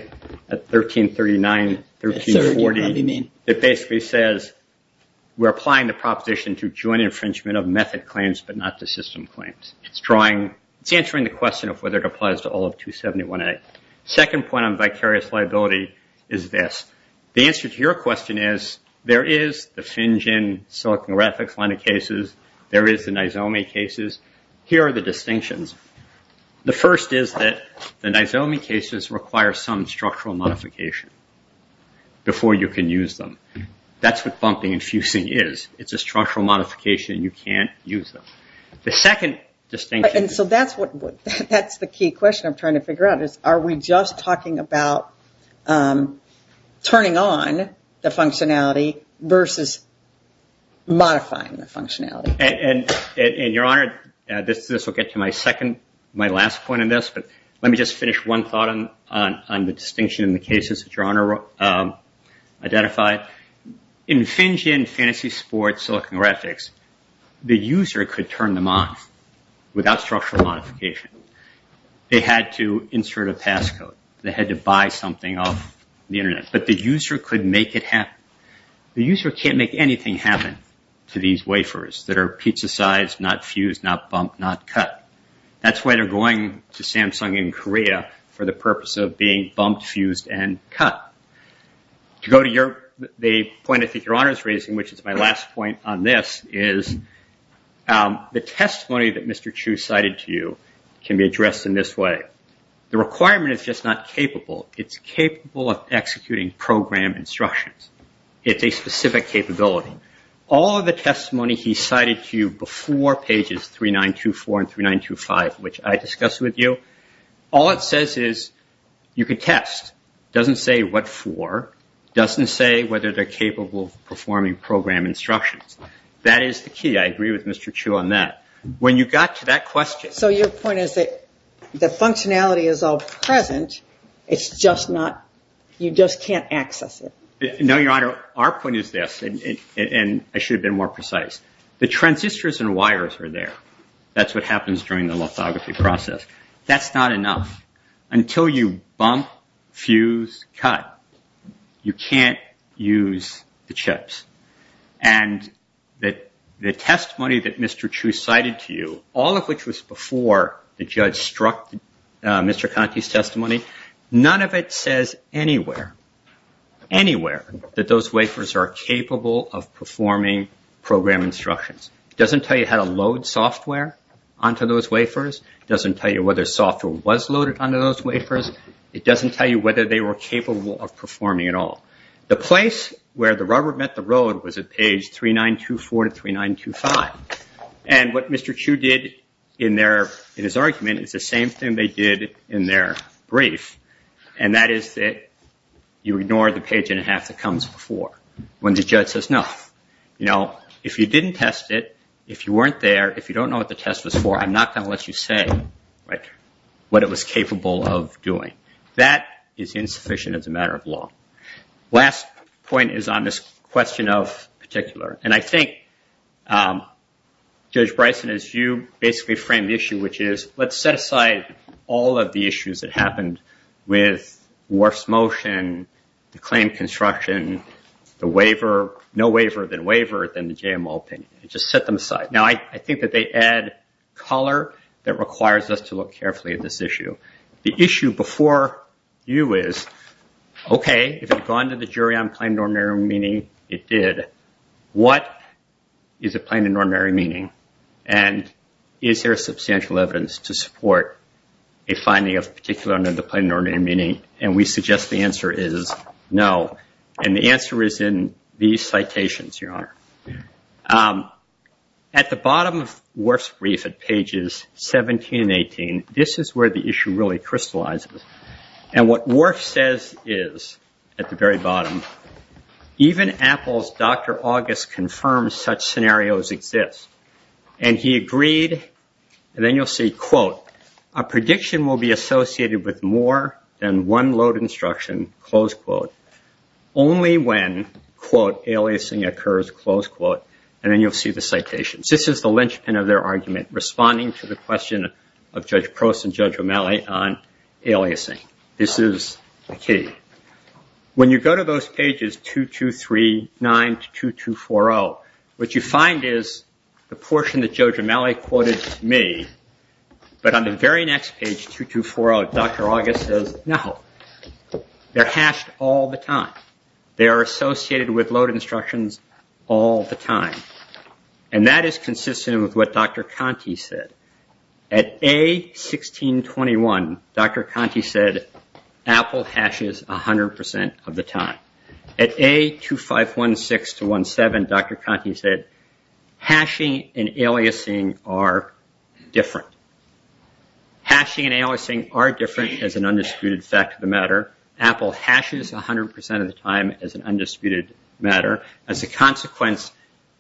at 1339, 1349, that basically says we're applying the proposition to joint infringement of method claims, but not the system claims. It's drawing, it's answering the question of whether it applies to all of 271A. Second point on vicarious liability is this. The answer to your question is, there is the FinGen, Silicon Graphics line of cases. There is the Nizomi cases. Here are the distinctions. The first is that the Nizomi cases require some structural modification before you can use them. That's what bumping and fusing is. It's a structural modification. You can't use them. The second distinction... That's the key question I'm trying to figure out is, are we just talking about turning on the functionality versus modifying the functionality? Your Honor, this will get to my second, my last point on this, but let me just finish one thought on the distinction in the cases that Your Honor identified. In FinGen, Fantasy Sports, Silicon Graphics, the user could turn them off without structural modification. They had to insert a passcode. They had to buy something off the Internet, but the user could make it happen. The user can't make anything happen to these wafers that are pizza-sized, not fused, not bumped, not cut. That's why they're going to Samsung in Korea for the purpose of being bumped, fused, and cut. To go to the point that Your Honor is raising, which is my last point on this, is the testimony that Mr. Chu cited to you can be addressed in this way. The requirement is just not capable. It's capable of executing program instructions. It's a specific capability. All of the testimony he cited to you before pages 3924 and 3925, which I discussed with you, all it says is you can test. It doesn't say what for. It doesn't say whether they're capable of performing program instructions. That is the key. I agree with Mr. Chu on that. When you got to that question... So your point is that the functionality is all present. It's just not... you just can't access it. No, Your Honor. Our point is this, and I should have been more precise. The transistors and wires are there. That's what happens during the lithography process. That's not enough. Until you bump, fuse, cut, you can't use the chips. And the testimony that Mr. Chu cited to you, all of which was before the judge struck Mr. Conti's testimony, none of it says anywhere, anywhere, that those wafers are capable of performing program instructions. It doesn't tell you how to load software onto those wafers. It doesn't tell you whether software was loaded onto those wafers. It doesn't tell you whether they were capable of performing at all. The place where the rubber met the road was at page 3924 to 3925. And what Mr. Chu did in his argument is the same thing they did in their brief, and that is that you ignore the page and a half that comes before when the judge says no. If you didn't test it, if you weren't there, if you don't know what the test was for, I'm not going to let you say what it was capable of doing. That is insufficient as a matter of law. Last point is on this question of particular. And I think, Judge Bryson, as you basically framed the issue, which is let's set aside all of the issues that happened with worse motion, the claim construction, the wafer, no wafer, then wafer, then the JML, and just set them aside. Now, I think that they add color that requires us to look carefully at this issue. The issue before you is, OK, if it's gone to the jury on plain and ordinary meaning, it did. What is a plain and ordinary meaning? And is there substantial evidence to support a finding of particular under the plain ordinary meaning? And we suggest the answer is no. At the bottom of Worf's brief at pages 17 and 18, this is where the issue really crystallizes. And what Worf says is, at the very bottom, even Apple's Dr. August confirms such scenarios exist. And he agreed. Then you'll see, quote, a prediction will be associated with more than one load instruction. Only when, quote, aliasing occurs, close quote. And then you'll see the citations. This is the linchpin of their argument responding to the question of Judge Prost and Judge O'Malley on aliasing. This is key. When you go to those pages 2239 to 2240, what you find is the portion that Judge O'Malley quoted is me. But on the very next page, 2240, Dr. August says, no, they're hashed all the time. They're associated with load instructions all the time. And that is consistent with what Dr. Conte said. At A1621, Dr. Conte said, Apple hashes 100% of the time. At A2516 to A2517, Dr. Conte said, hashing and aliasing are different. Hashing and aliasing are different as an undisputed fact of the matter. Apple hashes 100% of the time as an undisputed matter. As a consequence,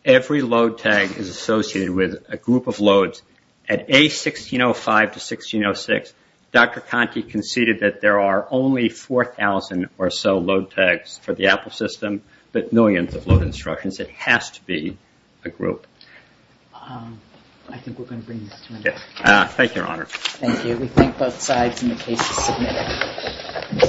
every load tag is associated with a group of loads. At A1605 to 1606, Dr. Conte conceded that there are only 4,000 or so load tags for the Apple system with millions of load instructions. It has to be a group. I think we're going to bring it to an end. Thank you, Your Honor. Thank you.